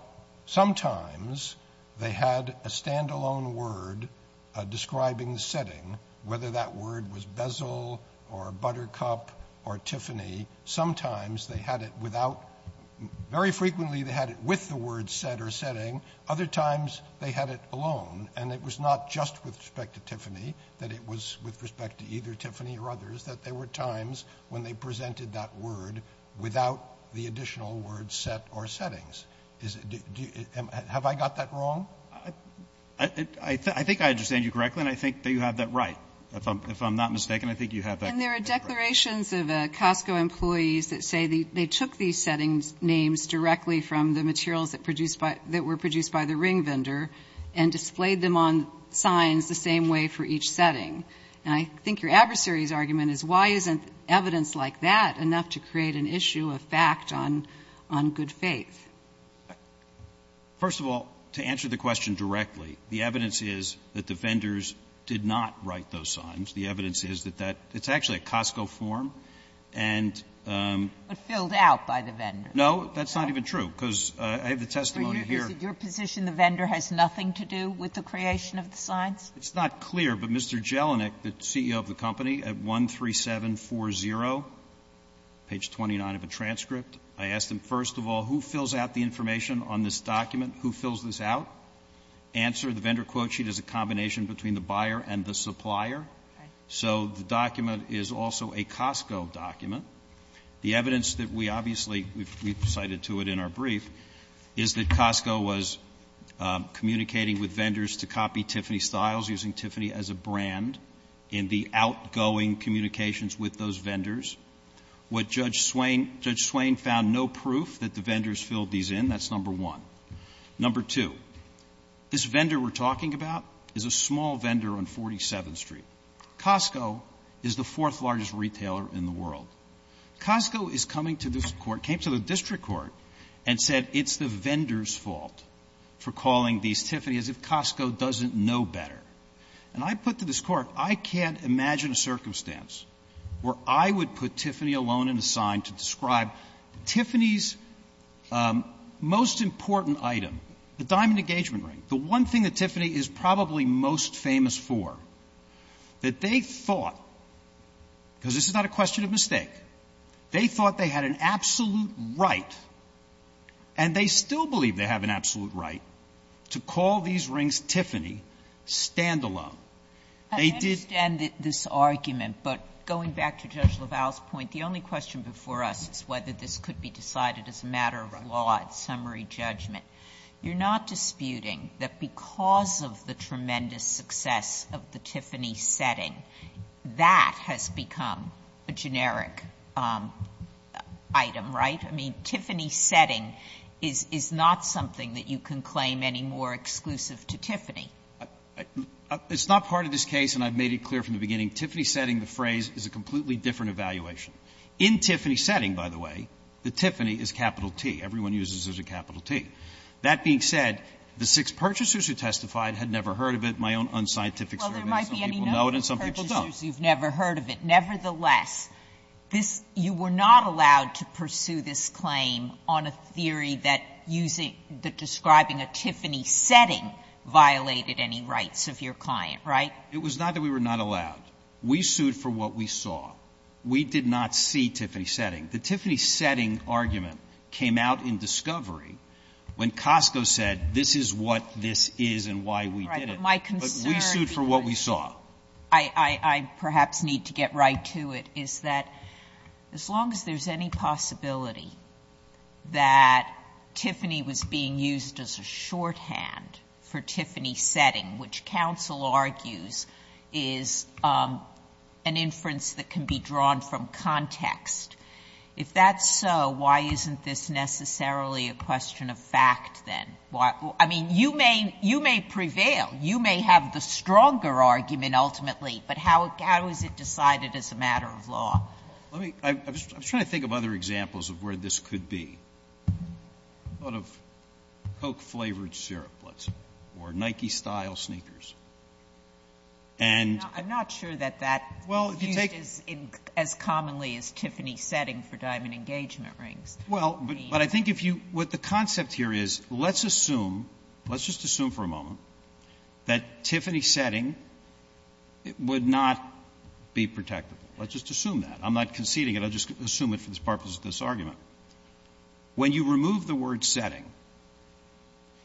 sometimes they had a standalone word describing the setting, whether that word was bezel or buttercup or Tiffany. Sometimes they had it without — very frequently they had it with the word set or setting. Other times they had it alone, and it was not just with respect to Tiffany, that it was with respect to either Tiffany or others, that there were times when they presented that word without the additional word set or settings. Have I got that wrong? I think I understand you correctly, and I think that you have that right. If I'm not mistaken, I think you have that right. And there are declarations of Costco employees that say they took these setting names directly from the materials that were produced by the ring vendor and displayed them on signs the same way for each setting. And I think your adversary's argument is, why isn't evidence like that enough to create an issue of fact on good faith? First of all, to answer the question directly, the evidence is that the vendors did not write those signs. The evidence is that that — it's actually a Costco form, and — It was filled out by the vendors. No, that's not even true, because I have the testimony here — So your position the vendor has nothing to do with the creation of the signs? It's not clear, but Mr. Jelinek, the CEO of the company, at 13740, page 29 of the transcript, I asked him, first of all, who fills out the information on this document? Who fills this out? Answer, the vendor quote sheet is a combination between the buyer and the supplier. So the document is also a Costco document. The evidence that we obviously — we've cited to it in our brief — is that Costco was communicating with vendors to copy Tiffany Styles, using Tiffany as a brand in the outgoing communications with those vendors. What Judge Swain — Judge Swain found no proof that the vendors filled these in. That's number one. Number two, this vendor we're talking about is a small vendor on 47th Street. Costco is the fourth largest retailer in the world. Costco is coming to this court, came to the district court, and said it's the vendor's fault for calling these Tiffany, as if Costco doesn't know better. And I put to this court, I can't imagine a circumstance where I would put Tiffany alone in the sign to describe Tiffany's most important item, the diamond engagement ring, the one thing that Tiffany is probably most famous for, that they thought, because this is not a question of mistake, they thought they had an absolute right, and they still believe they have an absolute right, to call these rings Tiffany, stand-alone. They did end this argument, but going back to Judge LaValle's point, the only question before us is whether this could be decided as a matter of a law, a summary judgment. You're not disputing that because of the tremendous success of the Tiffany setting, that has become a generic item, right? I mean, Tiffany setting is not something that you can claim any more exclusive to Tiffany. It's not part of this case, and I've made it clear from the beginning, Tiffany setting, the phrase, is a completely different evaluation. In Tiffany setting, by the way, the Tiffany is capital T. Everyone uses it as a capital T. That being said, the six purchasers who testified had never heard of it. My own unscientific... Well, there might be a number of purchasers who've never heard of it. Nevertheless, you were not allowed to pursue this claim on a theory that describing a Tiffany setting violated any rights of your client, right? It was not that we were not allowed. We sued for what we saw. We did not see Tiffany setting. The Tiffany setting argument came out in discovery when Costco said, this is what this is and why we did it. But we sued for what we saw. I perhaps need to get right to it, is that as long as there's any possibility that Tiffany was being used as a shorthand for Tiffany setting, which counsel argues is an inference that can be drawn from context, if that's so, why isn't this necessarily a question of fact then? I mean, you may prevail. You may have the stronger argument ultimately, but how is it decided as a matter of law? I'm trying to think of other examples of where this could be. A lot of folk-flavored syrup, let's say, or Nike-style sneakers. I'm not sure that that's used as commonly as Tiffany setting for diamond engagement rings. Well, but I think what the concept here is, let's assume, let's just assume for a moment that Tiffany setting would not be protected. Let's just assume that. I'm not conceding it, I'm just assuming it for the purposes of this argument. When you remove the word setting,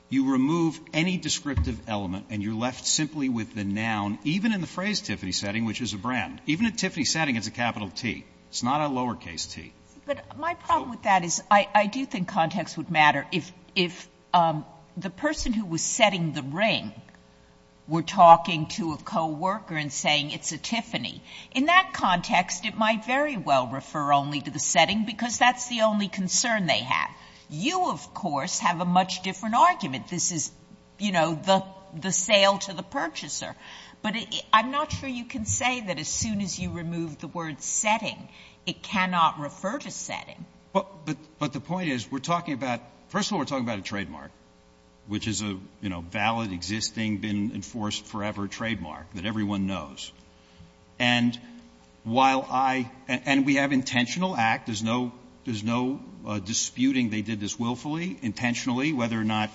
you remove any descriptive element and you're left simply with the noun, even in the phrase Tiffany setting, which is a brand. Even if Tiffany setting is a capital T, it's not a lowercase T. But my problem with that is I do think context would matter. If the person who was setting the ring were talking to a co-worker and saying it's a Tiffany, in that context it might very well refer only to the setting because that's the only concern they have. You, of course, have a much different argument. This is, you know, the sale to the purchaser. But I'm not sure you can say that as soon as you remove the word setting, it cannot refer to setting. But the point is we're talking about, first of all, we're talking about a trademark, which is a valid, existing, been enforced forever trademark that everyone knows. And while I, and we have intentional act, there's no disputing they did this willfully, intentionally, whether or not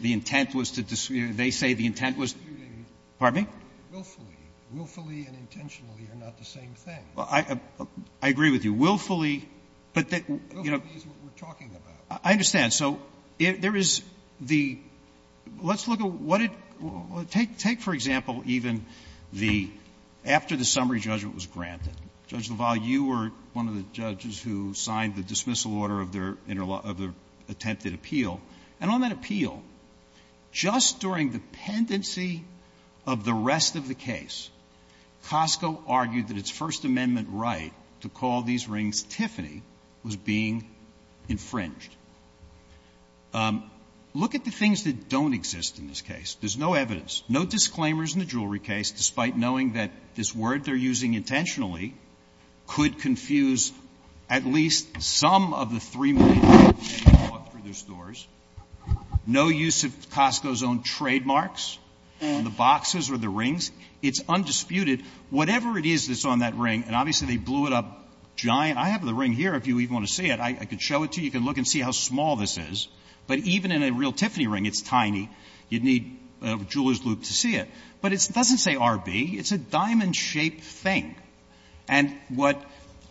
the intent was to, they say the intent was, pardon me? Willfully. Willfully and intentionally are not the same thing. I agree with you. Willfully, but that, you know. Willfully is what we're talking about. I understand. So there is the, let's look at what it, take, for example, even the, after the summary judgment was granted, Judge LaValle, you were one of the judges who signed the dismissal order of the attempted appeal. And on that appeal, just during the pendency of the rest of the case, Costco argued that its First Amendment right to call these rings Tiffany was being infringed. Look at the things that don't exist in this case. There's no evidence. No disclaimers in the jewelry case, despite knowing that this word they're using intentionally could confuse at least some of the three million people who walk through their stores. No use of Costco's own trademarks in the boxes or the rings. It's undisputed. Whatever it is that's on that ring, and obviously they blew it up giant. I have the ring here if you even want to see it. I can show it to you. You can look and see how small this is. But even in a real Tiffany ring, it's tiny. You'd need a jeweler's loop to see it. But it doesn't say RB. It's a diamond-shaped thing. And what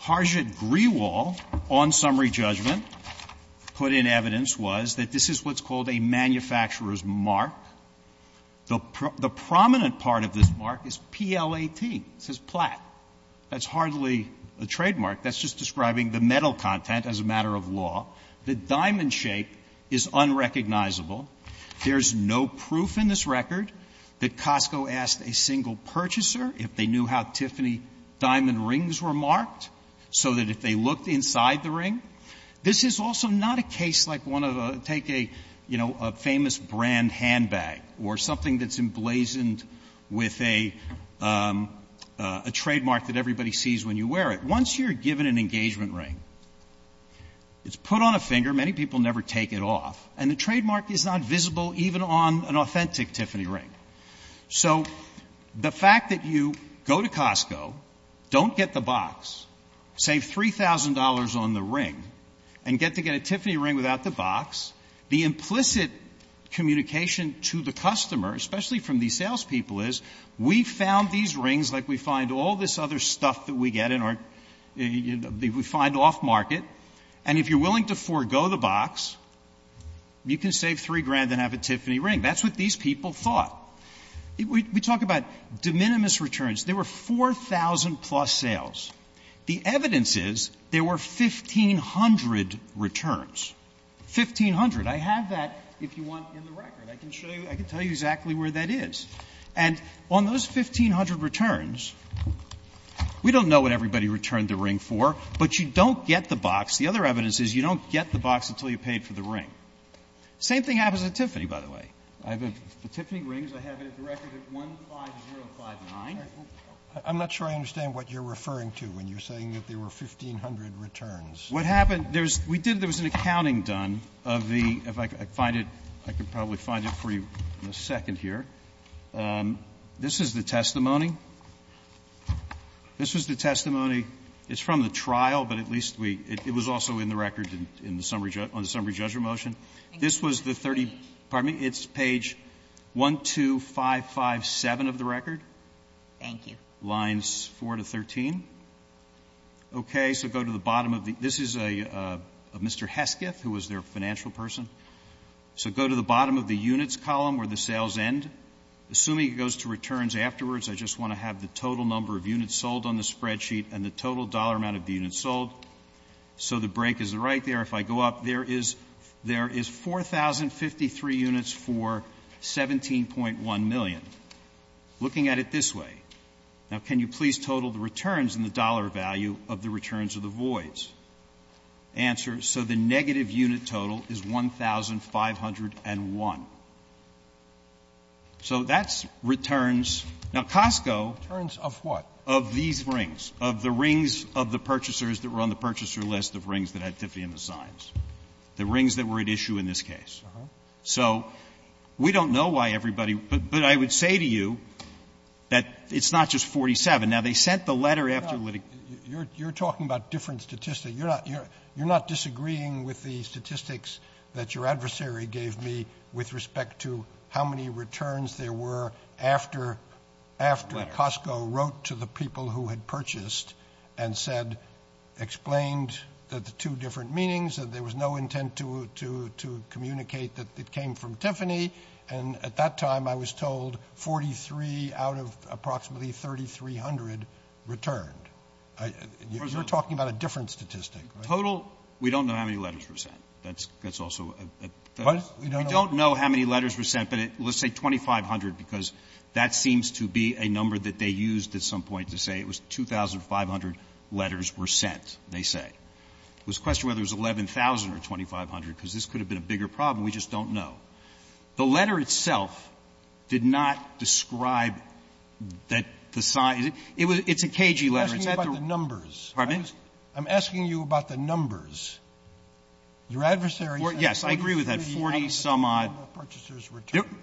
Harjit Grewal, on summary judgment, put in evidence was that this is what's called a manufacturer's mark. The prominent part of this mark is PLAT. It says PLAT. That's hardly a trademark. That's just describing the metal content as a matter of law. The diamond shape is unrecognizable. There's no proof in this record that Costco asked a single purchaser if they knew how Tiffany diamond rings were marked, so that if they looked inside the ring. This is also not a case like one of a, take a, you know, a famous brand handbag or something that's emblazoned with a trademark that everybody sees when you wear it. Once you're given an engagement ring, it's put on a finger. Many people never take it off. And the trademark is not visible even on an authentic Tiffany ring. So the fact that you go to Costco, don't get the box, save $3,000 on the ring, and get to get a Tiffany ring without the box, the implicit communication to the customer, especially from the salespeople, is we found these rings like we find all this other stuff that we get in our, that we find off-market, and if you're willing to forego the box, you can save $3,000 and have a Tiffany ring. That's what these people thought. We talk about de minimis returns. There were 4,000-plus sales. The evidence is there were 1,500 returns. 1,500. I have that, if you want, in the record. I can show you, I can tell you exactly where that is. And on those 1,500 returns, we don't know what everybody returned the ring for, but you don't get the box. The other evidence is you don't get the box until you've paid for the ring. Same thing happens with Tiffany, by the way. I have a Tiffany ring. I have it in the record at 15059. I'm not sure I understand what you're referring to when you're saying that there were 1,500 returns. What happened, we did, there was an accounting done of the, if I could find it, I could probably find it for you in a second here. This is the testimony. This was the testimony. It's from the trial, but at least it was also in the record on the summary judgment motion. This was the 30, pardon me, it's page 12557 of the record. Thank you. Lines 4 to 13. Okay, so go to the bottom of the, this is Mr. Hesketh, who was their financial person. So go to the bottom of the units column where the sales end. Assuming it goes to returns afterwards, I just want to have the total number of units sold on the spreadsheet and the total dollar amount of units sold. So the break is right there. If I go up, there is 4,053 units for 17.1 million. Looking at it this way. Now, can you please total the returns and the dollar value of the returns of the voids? Answer, so the negative unit total is 1,501. So that's returns. Now, Costco. Returns of what? Of these rings. Of the rings of the purchasers that were on the purchaser list of rings that had 50 in the signs. The rings that were at issue in this case. Uh-huh. So we don't know why everybody, but I would say to you that it's not just 47. Now, they sent the letter after. You're talking about different statistics. You're not disagreeing with the statistics that your adversary gave me with respect to how many returns there were after Costco wrote to the people who had purchased and said, explained that the two different meanings, that there was no intent to communicate that it came from Tiffany. And at that time, I was told 43 out of approximately 3,300 returned. You're talking about a different statistic. Total, we don't know how many letters were sent. That's also. What? We don't know how many letters were sent, but let's say 2,500, because that seems to be a number that they used at some point to say it was 2,500 letters were sent, they say. It was a question whether it was 11,000 or 2,500, because this could have been a bigger problem. We just don't know. The letter itself did not describe that the sign. It's a cagey letter. You're asking about the numbers. Pardon me? I'm asking you about the numbers. Your adversary. Yes, I agree with that. 40 some odd.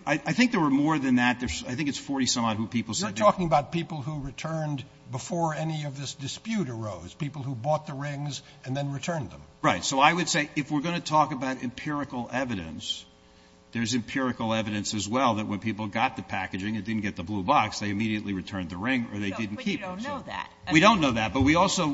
I think there were more than that. I think it's 40 some odd who people said. You're talking about people who returned before any of this dispute arose, people who bought the rings and then returned them. Right. So I would say if we're going to talk about empirical evidence, there's empirical evidence as well that when people got the packaging and didn't get the blue box, they immediately returned the ring or they didn't keep it. No, but you don't know that. We don't know that, but we also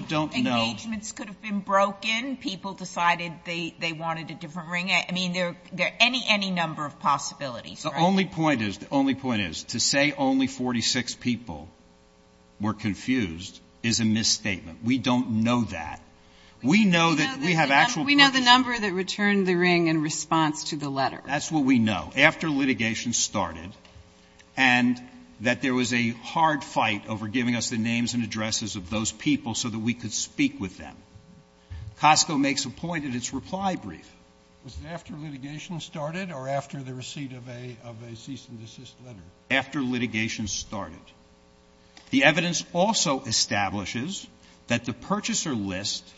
don't know. Engagements could have been broken. People decided they wanted a different ring. I mean, there are any number of possibilities. The only point is to say only 46 people were confused is a misstatement. We don't know that. We know that we have actual. We know the number that returned the ring in response to the letter. That's what we know. After litigation started and that there was a hard fight over giving us the names and addresses of those people so that we could speak with them. Costco makes a point in its reply brief. Was it after litigation started or after the receipt of a cease and desist letter? After litigation started. The evidence also establishes that the purchaser list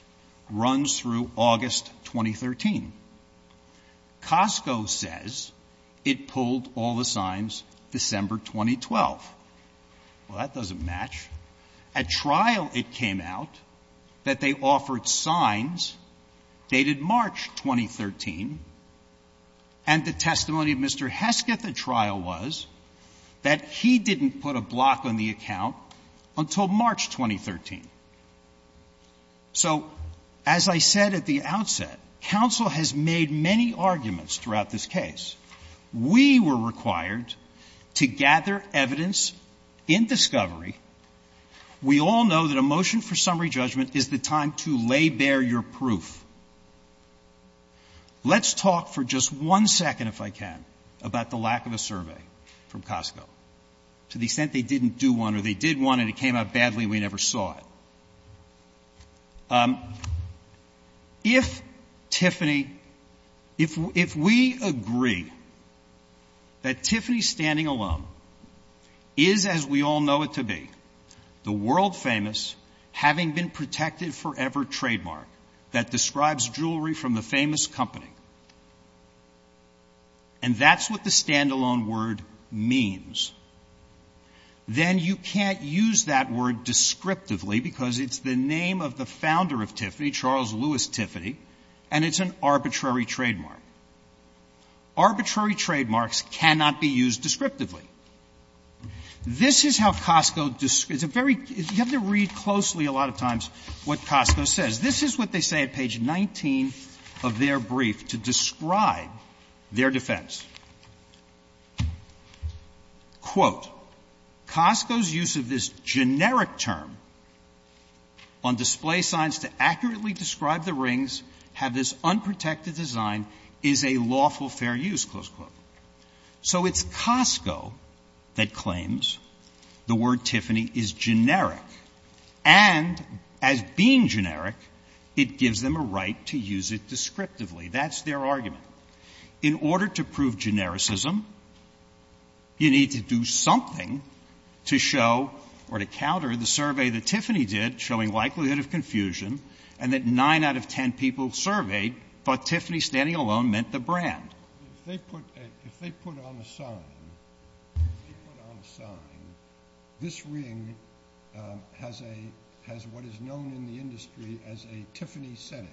runs through August 2013. Costco says it pulled all the signs December 2012. Well, that doesn't match. At trial it came out that they offered signs dated March 2013. And the testimony of Mr. Hesketh at trial was that he didn't put a block on the account until March 2013. So, as I said at the outset, counsel has made many arguments throughout this case. We were required to gather evidence in discovery. We all know that a motion for summary judgment is the time to lay bare your proof. Let's talk for just one second, if I can, about the lack of a survey from Costco. To the extent they didn't do one or they did one and it came out badly and we never saw it. If Tiffany, if we agree that Tiffany standing alone is as we all know it to be, the world famous having been protected forever trademark that describes jewelry from the famous company, and that's what the standalone word means, then you can't use that word descriptively because it's the name of the founder of Tiffany, Charles Lewis Tiffany, and it's an arbitrary trademark. Arbitrary trademarks cannot be used descriptively. This is how Costco, you have to read closely a lot of times what Costco says. This is what they say at page 19 of their brief to describe their defense. Costco's use of this generic term on display signs to accurately describe the rings, have this unprotected design, is a lawful fair use. So it's Costco that claims the word Tiffany is generic, and as being generic, it gives them a right to use it descriptively. That's their argument. In order to prove genericism, you need to do something to show or to counter the survey that Tiffany did showing likelihood of confusion, and that 9 out of 10 people surveyed thought Tiffany standing alone meant the brand. If they put on a sign, this ring has what is known in the industry as a Tiffany setting.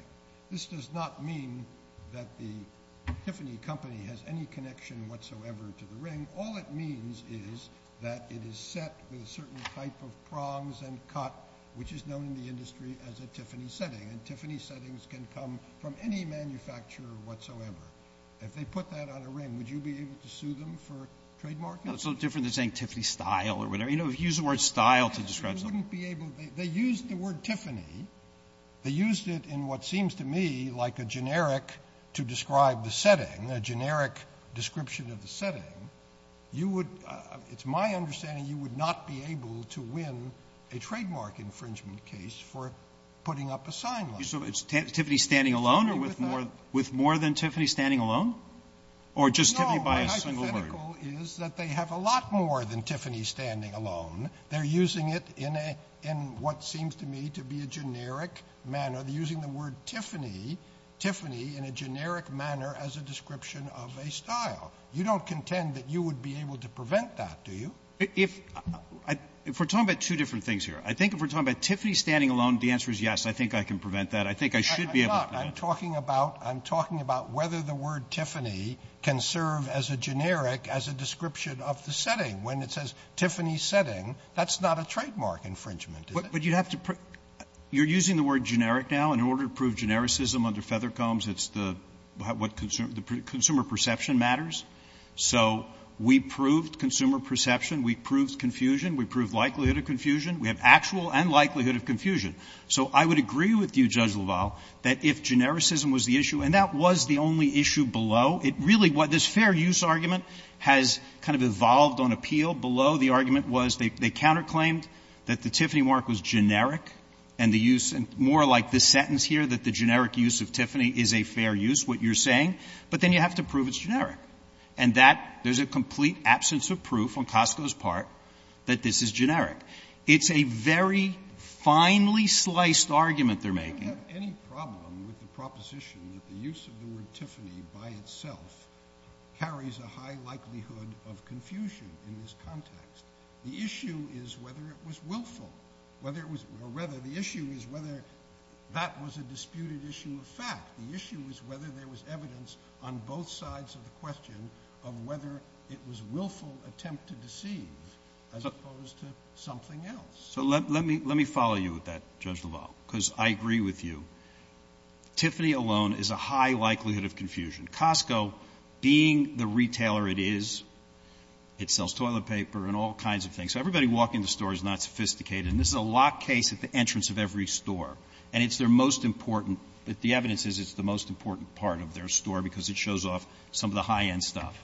This does not mean that the Tiffany company has any connection whatsoever to the ring. All it means is that it is set with a certain type of prongs and cut, which is known in the industry as a Tiffany setting, and Tiffany settings can come from any manufacturer whatsoever. If they put that on a ring, would you be able to sue them for trademark? That's a little different than saying Tiffany style or whatever. You know, if you use the word style to describe something. They used the word Tiffany. They used it in what seems to me like a generic to describe the setting, a generic description of the setting. It's my understanding you would not be able to win a trademark infringement case for putting up a sign like that. So it's Tiffany standing alone or with more than Tiffany standing alone? Or just Tiffany by a single word? No, my hypothetical is that they have a lot more than Tiffany standing alone. They're using it in what seems to me to be a generic manner. They're using the word Tiffany in a generic manner as a description of a style. You don't contend that you would be able to prevent that, do you? If we're talking about two different things here, I think if we're talking about Tiffany standing alone, the answer is yes. I think I can prevent that. I think I should be able to. I'm talking about whether the word Tiffany can serve as a generic, as a description of the setting. When it says Tiffany setting, that's not a trademark infringement, is it? But you have to – you're using the word generic now. In order to prove genericism under Feathercombs, it's the – consumer perception matters. So we proved consumer perception. We proved confusion. We proved likelihood of confusion. We have actual and likelihood of confusion. So I would agree with you, Judge LaValle, that if genericism was the issue, and that was the only issue below, it really – this fair use argument has kind of evolved on appeal. Below, the argument was they counterclaimed that the Tiffany mark was generic, and the use – more like this sentence here, that the generic use of Tiffany is a fair use, what you're saying. But then you have to prove it's generic. And that – there's a complete absence of proof on Costco's part that this is generic. It's a very finely sliced argument they're making. I don't have any problem with the proposition that the use of the word Tiffany by itself carries a high likelihood of confusion in this context. The issue is whether it was willful, whether it was – or rather, the issue is whether that was a disputed issue of fact. The issue is whether there was evidence on both sides of the question of whether it was a willful attempt to deceive as opposed to something else. So let me follow you with that, Judge LaValle, because I agree with you. Tiffany alone is a high likelihood of confusion. Costco, being the retailer it is, it sells toilet paper and all kinds of things. So everybody walking in the store is not sophisticated, and this is a locked case at the entrance of every store. And it's their most important – the evidence is it's the most important part of their store because it shows off some of the high-end stuff.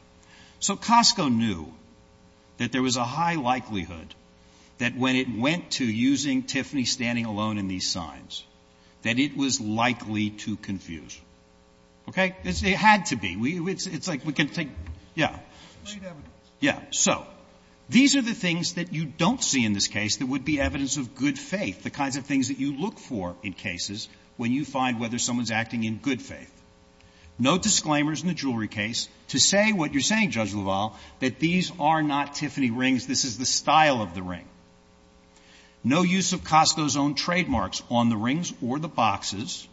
So Costco knew that there was a high likelihood that when it went to using Tiffany standing alone in these signs, that it was likely to confuse. Okay? It had to be. It's like we can take – yeah. Yeah. So these are the things that you don't see in this case that would be evidence of good faith, the kinds of things that you look for in cases when you find whether someone's acting in good faith. No disclaimers in the jewelry case to say what you're saying, Judge LaValle, that these are not Tiffany rings. This is the style of the ring. No use of Costco's own trademarks on the rings or the boxes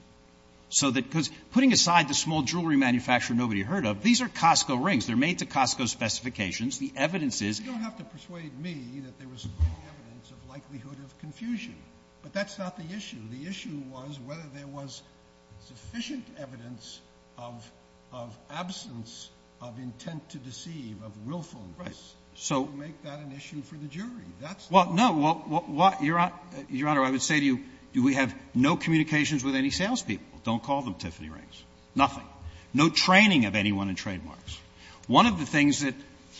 so that – because putting aside the small jewelry manufacturer nobody heard of, these are Costco rings. They're made to Costco specifications. The evidence is – You don't have to persuade me that there was evidence of likelihood of confusion, but that's not the issue. The issue was whether there was sufficient evidence of absence of intent to deceive, of willfulness. Right. To make that an issue for the jury. Well, no. Your Honor, I would say to you we have no communications with any salespeople. Don't call them Tiffany rings. Nothing. No training of anyone in trademarks. One of the things that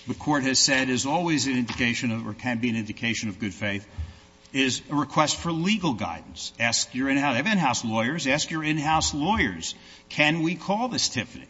the court has said is always an indication or can be an indication of good faith is a request for legal guidance. Ask your in-house lawyers. Ask your in-house lawyers, can we call this Tiffany?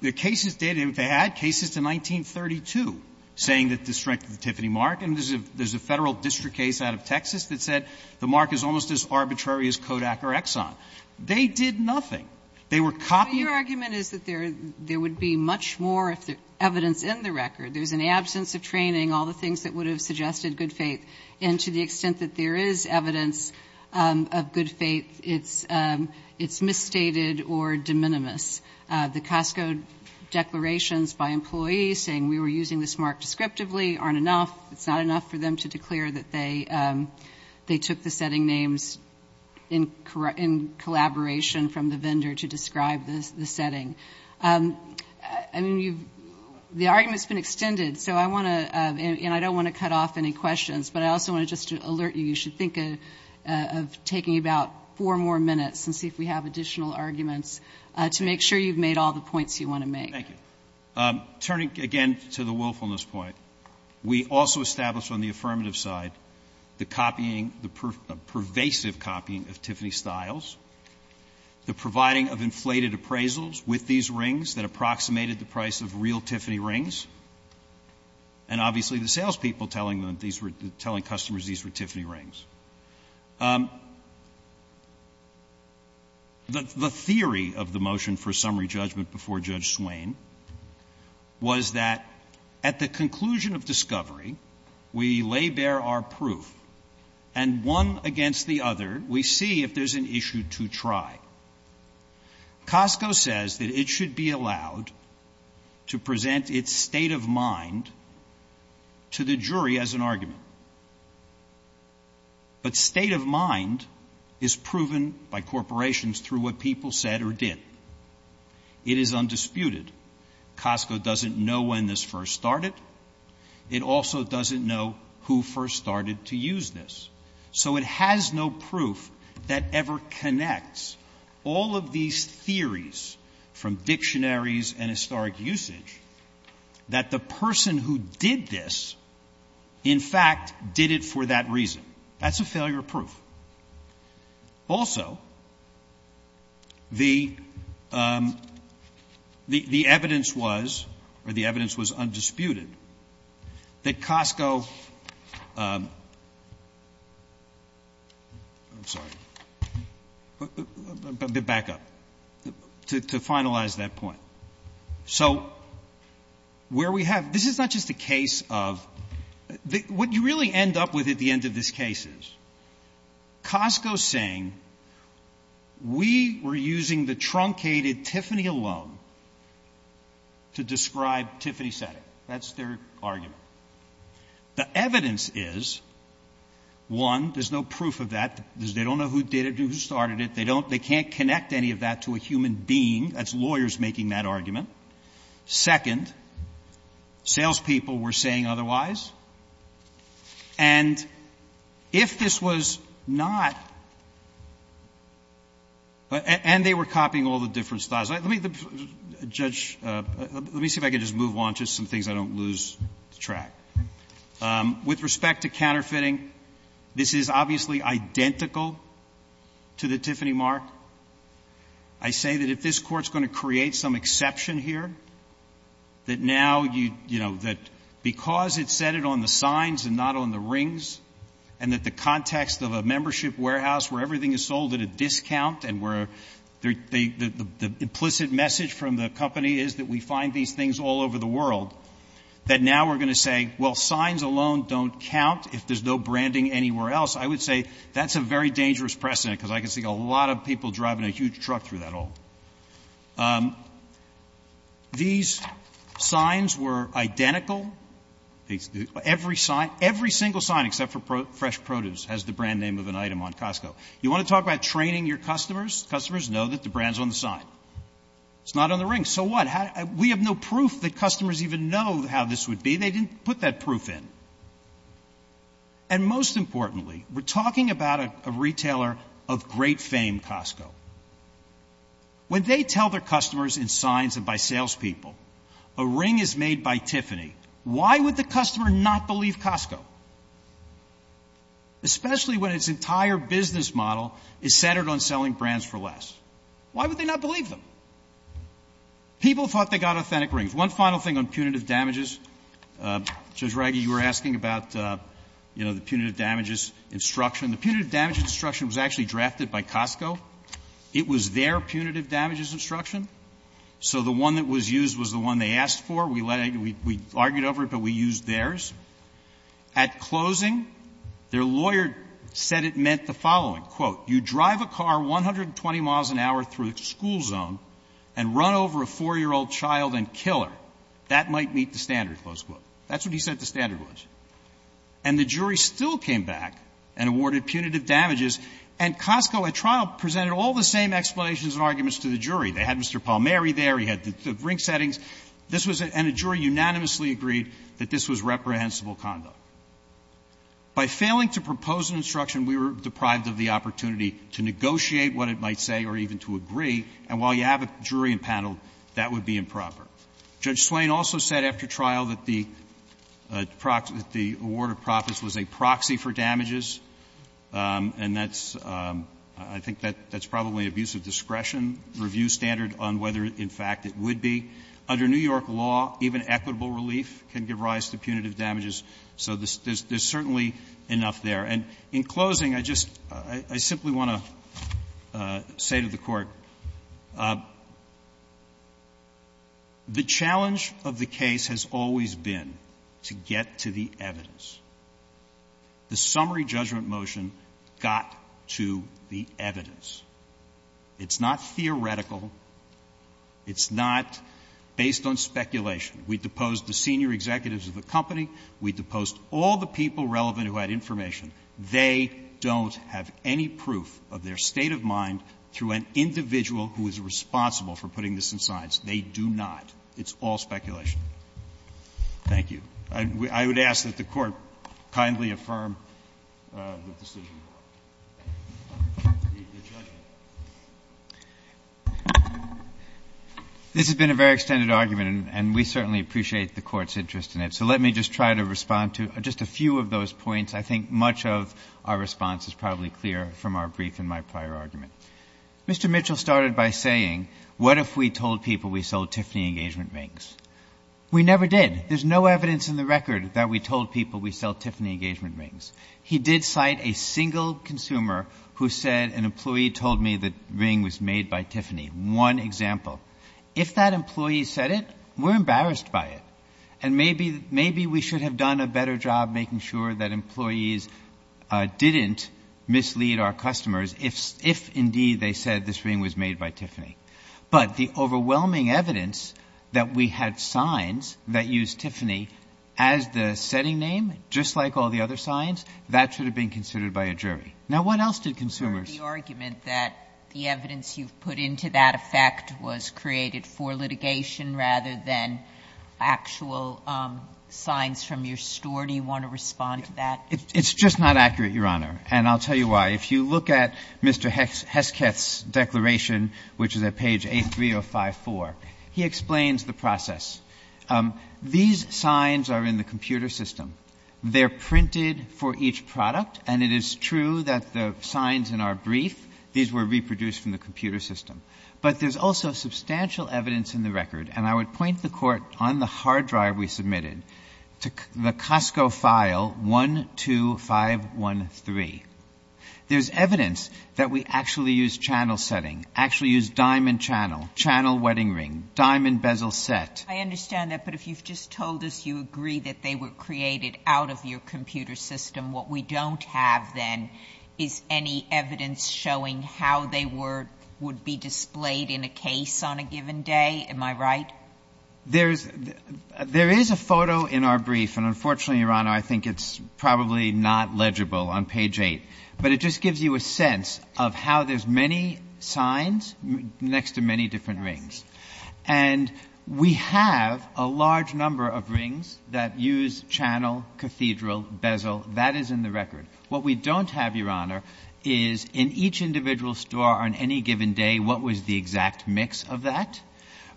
There are cases dated – if I add cases to 1932 saying that the strength of the Tiffany mark – and there's a federal district case out of Texas that said the mark is almost as arbitrary as Kodak or Exxon. They did nothing. They were copying – Your argument is that there would be much more evidence in the record. There's an absence of training, all the things that would have suggested good faith, and to the extent that there is evidence of good faith, it's misstated or de minimis. The Costco declarations by employees saying we were using this mark descriptively aren't enough. It's not enough for them to declare that they took the setting names in collaboration from the vendor to describe the setting. I mean, the argument's been extended, and I don't want to cut off any questions, but I also want to just alert you. You should think of taking about four more minutes and see if we have additional arguments to make sure you've made all the points you want to make. Thank you. Turning again to the willfulness point, we also established on the affirmative side the pervasive copying of Tiffany styles, the providing of inflated appraisals with these rings that approximated the price of real Tiffany rings, and obviously the salespeople telling customers these were Tiffany rings. The theory of the motion for summary judgment before Judge Swain was that at the conclusion of discovery, we lay bare our proof, and one against the other, we see if there's an issue to try. Costco says that it should be allowed to present its state of mind to the jury as an argument. But state of mind is proven by corporations through what people said or did. It is undisputed. Costco doesn't know when this first started. It also doesn't know who first started to use this. So it has no proof that ever connects all of these theories from dictionaries and historic usage that the person who did this, in fact, did it for that reason. That's a failure proof. Also, the evidence was, or the evidence was undisputed, that Costco, I'm sorry, back up, to finalize that point. So where we have, this is not just a case of, what you really end up with at the end of this case is Costco saying, we were using the truncated Tiffany alone to describe Tiffany setting. That's their argument. The evidence is, one, there's no proof of that. They don't know who did it and who started it. They can't connect any of that to a human being. That's lawyers making that argument. Second, salespeople were saying otherwise. And if this was not, and they were copying all the different styles. Let me, Judge, let me see if I can just move on to some things I don't lose track. With respect to counterfeiting, this is obviously identical to the Tiffany mark. I say that if this court's going to create some exception here, that now, you know, that because it said it on the signs and not on the rings, and that the context of a membership warehouse where everything is sold at a discount, and where the implicit message from the company is that we find these things all over the world, that now we're going to say, well, signs alone don't count if there's no branding anywhere else. I would say that's a very dangerous precedent because I can see a lot of people driving a huge truck through that hole. These signs were identical. Every single sign except for fresh produce has the brand name of an item on Costco. You want to talk about training your customers? Customers know that the brand's on the sign. It's not on the ring. So what? We have no proof that customers even know how this would be. They didn't put that proof in. And most importantly, we're talking about a retailer of great fame, Costco. When they tell their customers in signs and by salespeople, a ring is made by Tiffany, why would the customer not believe Costco? Especially when its entire business model is centered on selling brands for less. Why would they not believe them? People thought they got authentic rings. There's one final thing on punitive damages. Judge Reidy, you were asking about the punitive damages instruction. The punitive damages instruction was actually drafted by Costco. It was their punitive damages instruction. So the one that was used was the one they asked for. We argued over it, but we used theirs. At closing, their lawyer said it meant the following. And run over a four-year-old child and kill her. That might meet the standards, close quote. That's what he said the standard was. And the jury still came back and awarded punitive damages. And Costco, at trial, presented all the same explanations and arguments to the jury. They had Mr. Palmieri there. He had the ring settings. And the jury unanimously agreed that this was reprehensible conduct. By failing to propose an instruction, we were deprived of the opportunity to negotiate what it might say or even to agree, and while you have a jury in panel, that would be improper. Judge Swain also said after trial that the award of profits was a proxy for damages. And that's ‑‑ I think that's probably a use of discretion review standard on whether, in fact, it would be. Under New York law, even equitable relief can give rise to punitive damages. So there's certainly enough there. And in closing, I just ‑‑ I simply want to say to the Court, the challenge of the case has always been to get to the evidence. The summary judgment motion got to the evidence. It's not theoretical. It's not based on speculation. We deposed the senior executives of the company. We deposed all the people relevant who had information. They don't have any proof of their state of mind to an individual who is responsible for putting this in science. They do not. It's all speculation. Thank you. I would ask that the Court kindly affirm the decision. This has been a very extended argument, and we certainly appreciate the Court's interest in it. So let me just try to respond to just a few of those points. I think much of our response is probably clear from our brief in my prior argument. Mr. Mitchell started by saying, what if we told people we sold Tiffany engagement rings? We never did. There's no evidence in the record that we told people we sold Tiffany engagement rings. He did cite a single consumer who said, an employee told me the ring was made by Tiffany. One example. If that employee said it, we're embarrassed by it. And maybe we should have done a better job making sure that employees didn't mislead our customers if, indeed, they said this ring was made by Tiffany. But the overwhelming evidence that we had signs that used Tiffany as the setting name, just like all the other signs, that should have been considered by a jury. Now, what else did consumers... The argument that the evidence you put into that effect was created for litigation rather than actual signs from your store. Do you want to respond to that? It's just not accurate, Your Honor. And I'll tell you why. If you look at Mr. Heskett's declaration, which is at page 83054, he explains the process. These signs are in the computer system. They're printed for each product, and it is true that the signs in our brief, these were reproduced from the computer system. But there's also substantial evidence in the record, and I would point the Court on the hard drive we submitted, the Costco file 12513. There's evidence that we actually used channel setting, actually used diamond channel, channel wedding ring, diamond bezel set. I understand that, but if you've just told us you agree that they were created out of your computer system, what we don't have then is any evidence showing how they would be displayed in a case on a given day. Am I right? There is a photo in our brief, and unfortunately, Your Honor, I think it's probably not legible on page 8. But it just gives you a sense of how there's many signs next to many different rings. And we have a large number of rings that use channel, cathedral, bezel. That is in the record. What we don't have, Your Honor, is in each individual store on any given day what was the exact mix of that.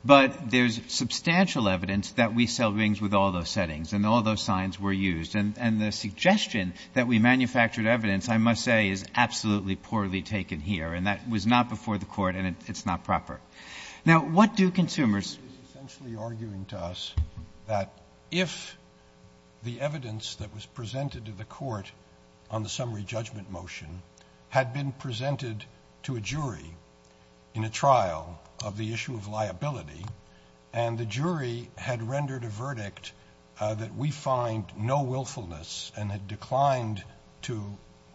But there's substantial evidence that we sell rings with all those settings, and all those signs were used. And the suggestion that we manufactured evidence, I must say, is absolutely poorly taken here. And that was not before the Court, and it's not proper. Now, what do consumers... He's essentially arguing to us that if the evidence that was presented to the Court on the summary judgment motion had been presented to a jury in a trial of the issue of liability, and the jury had rendered a verdict that we find no willfulness and had declined to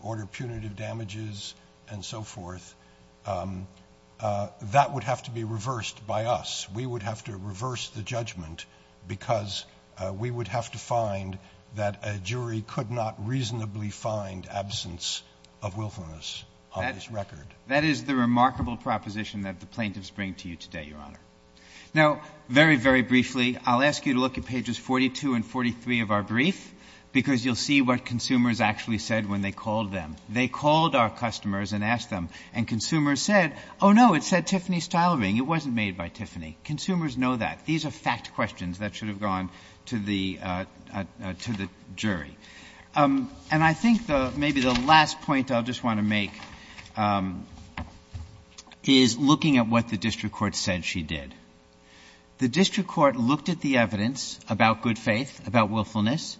order punitive damages and so forth, that would have to be reversed by us. We would have to reverse the judgment because we would have to find that a jury could not reasonably find absence of willfulness on this record. That is the remarkable proposition that the plaintiffs bring to you today, Your Honor. Now, very, very briefly, I'll ask you to look at pages 42 and 43 of our brief, because you'll see what consumers actually said when they called them. They called our customers and asked them, and consumers said, oh, no, it said Tiffany Stylering, it wasn't made by Tiffany. Consumers know that. These are fact questions that should have gone to the jury. And I think maybe the last point I'll just want to make is looking at what the District Court said she did. The District Court looked at the evidence about good faith, about willfulness,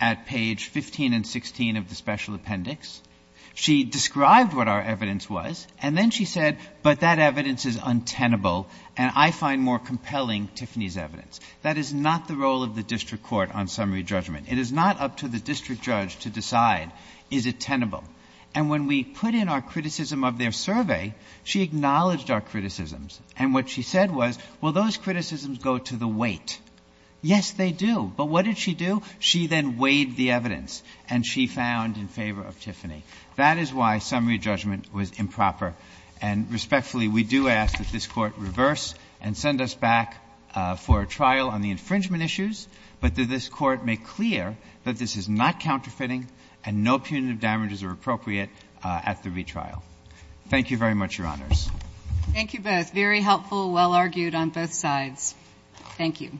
at page 15 and 16 of the special appendix. She described what our evidence was, and then she said, but that evidence is untenable, and I find more compelling Tiffany's evidence. That is not the role of the District Court on summary judgment. It is not up to the District Judge to decide, is it tenable? And when we put in our criticism of their survey, she acknowledged our criticisms, and what she said was, well, those criticisms go to the weight. Yes, they do. But what did she do? She then weighed the evidence, and she found in favor of Tiffany. That is why summary judgment was improper. And respectfully, we do ask that this Court reverse and send us back for a trial on the infringement issues, but that this Court make clear that this is not counterfeiting and no punitive damages are appropriate at the retrial. Thank you very much, Your Honors. Thank you both. Very helpful, well argued on both sides. Thank you.